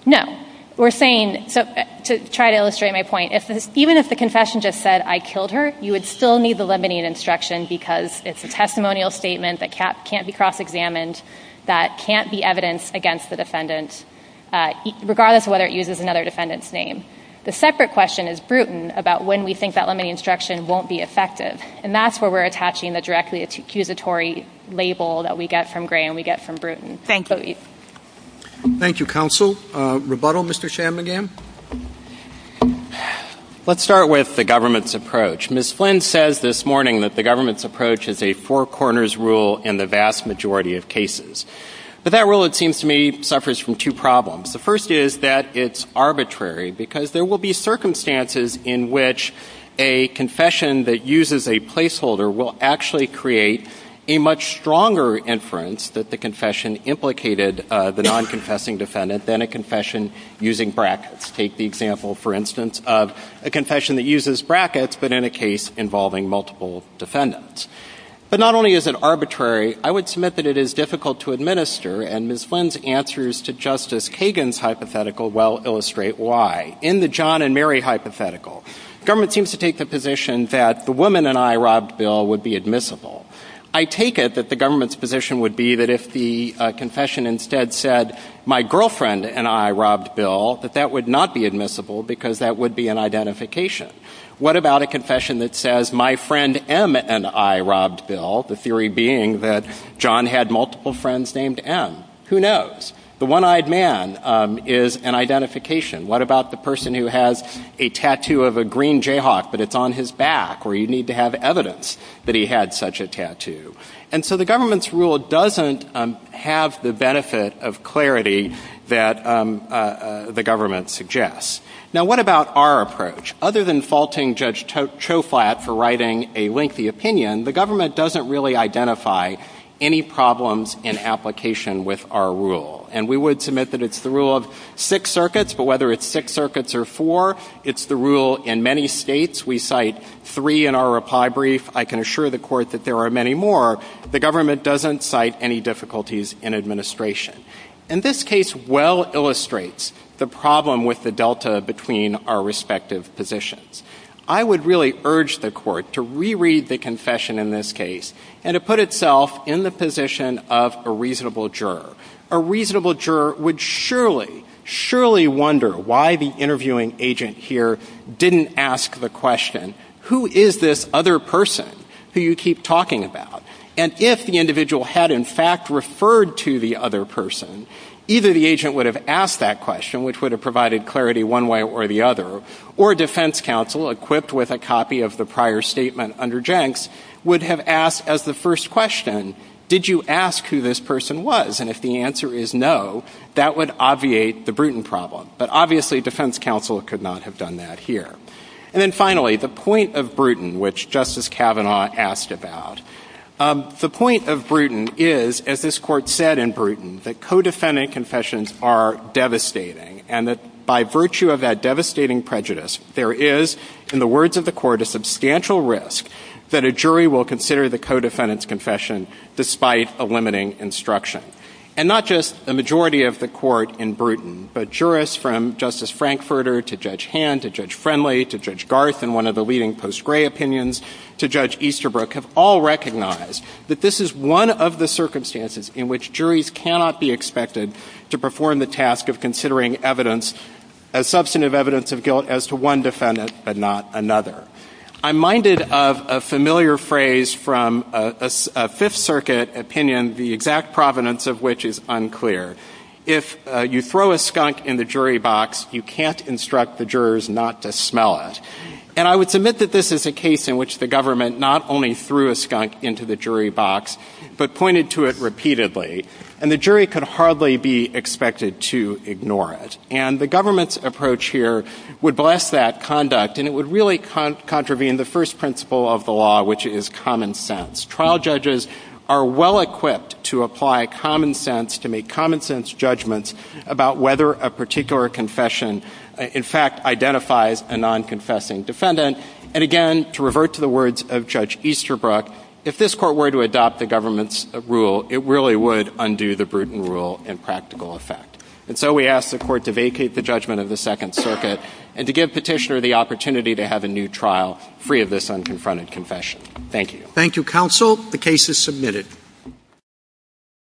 No. We're saying... To try to illustrate my point, even if the confession just said, I killed her, you would still need the limiting instruction because it's a testimonial statement that can't be cross-examined, that can't be evidence against the defendant, regardless of whether it uses another defendant's name. The separate question is Bruton, about when we think that limiting instruction won't be effective. And that's where we're attaching the directly accusatory label that we get from Gray and we get from Bruton. Thanks, Louise. Thank you, counsel. Rebuttal, Mr. Shanmugam? Let's start with the government's approach. Ms. Flynn says this morning that the government's approach is a four-corners rule in the vast majority of cases. But that rule, it seems to me, suffers from two problems. The first is that it's arbitrary because there will be circumstances in which a confession that uses a placeholder will actually create a much stronger inference that the confession implicated the non-confessing defendant than a confession using brackets. Take the example, for instance, of a confession that uses brackets but in a case involving multiple defendants. But not only is it arbitrary, I would submit that it is difficult to administer and Ms. Flynn's answers to Justice Kagan's hypothetical well illustrate why. In the John and Mary hypothetical, government seems to take the position that the woman and I robbed Bill would be admissible. I take it that the government's position would be that if the confession instead said, my girlfriend and I robbed Bill, that that would not be admissible because that would be an identification. What about a confession that says, my friend M and I robbed Bill, the theory being that John had multiple friends named M? Who knows? The one-eyed man is an identification. What about the person who has a tattoo of a green Jayhawk but it's on his back, where you need to have evidence that he had such a tattoo? And so the government's rule doesn't have the benefit of clarity that the government suggests. Now, what about our approach? Other than faulting Judge Choflat for writing a lengthy opinion, the government doesn't really identify any problems in application with our rule. And we would submit that it's the rule of six circuits, but whether it's six circuits or four, it's the rule in many states. We cite three in our reply brief. I can assure the Court that there are many more. The government doesn't cite any difficulties in administration. And this case well illustrates the problem with the delta between our respective positions. I would really urge the Court to reread the confession in this case and to put itself in the position of a reasonable juror. A reasonable juror would surely, surely wonder why the interviewing agent here didn't ask the question, who is this other person who you keep talking about? And if the individual had, in fact, referred to the other person, either the agent would have asked that question, which would have provided clarity one way or the other, or a defense counsel equipped with a copy of the prior statement under Jenks would have asked as the first question, did you ask who this person was? And if the answer is no, that would obviate the Bruton problem. But obviously a defense counsel could not have done that here. And then finally, the point of Bruton, which Justice Kavanaugh asked about. The point of Bruton is, as this Court said in Bruton, that co-defendant confessions are devastating and that by virtue of that devastating prejudice, there is, in the words of the Court, a substantial risk that a jury will consider the co-defendant's confession despite a limiting instruction. And not just the majority of the Court in Bruton, but jurists from Justice Frankfurter to Judge Hand to Judge Friendly to Judge Garth in one of the leading post-Gray opinions to Judge Easterbrook have all recognized that this is one of the circumstances in which juries cannot be expected to perform the task of considering evidence, substantive evidence of guilt, as to one defendant but not another. I'm minded of a familiar phrase from a Fifth Circuit opinion, the exact provenance of which is unclear. If you throw a skunk in the jury box, you can't instruct the jurors not to smell it. And I would submit that this is a case in which the government not only threw a skunk into the jury box, but pointed to it repeatedly, and the jury could hardly be expected to ignore it. And the government's approach here would bless that conduct, and it would really contravene the first principle of the law, which is common sense. Trial judges are well-equipped to apply common sense, to make common-sense judgments about whether a particular confession in fact identifies a non-confessing defendant. And again, to revert to the words of Judge Easterbrook, if this Court were to adopt the government's rule, it really would undo the Bruton rule in practical effect. And so we ask the Court to vacate the judgment of the Second Circuit and to give Petitioner the opportunity to have a new trial free of this unconfronted confession. Thank you. Thank you, Counsel. The case is submitted.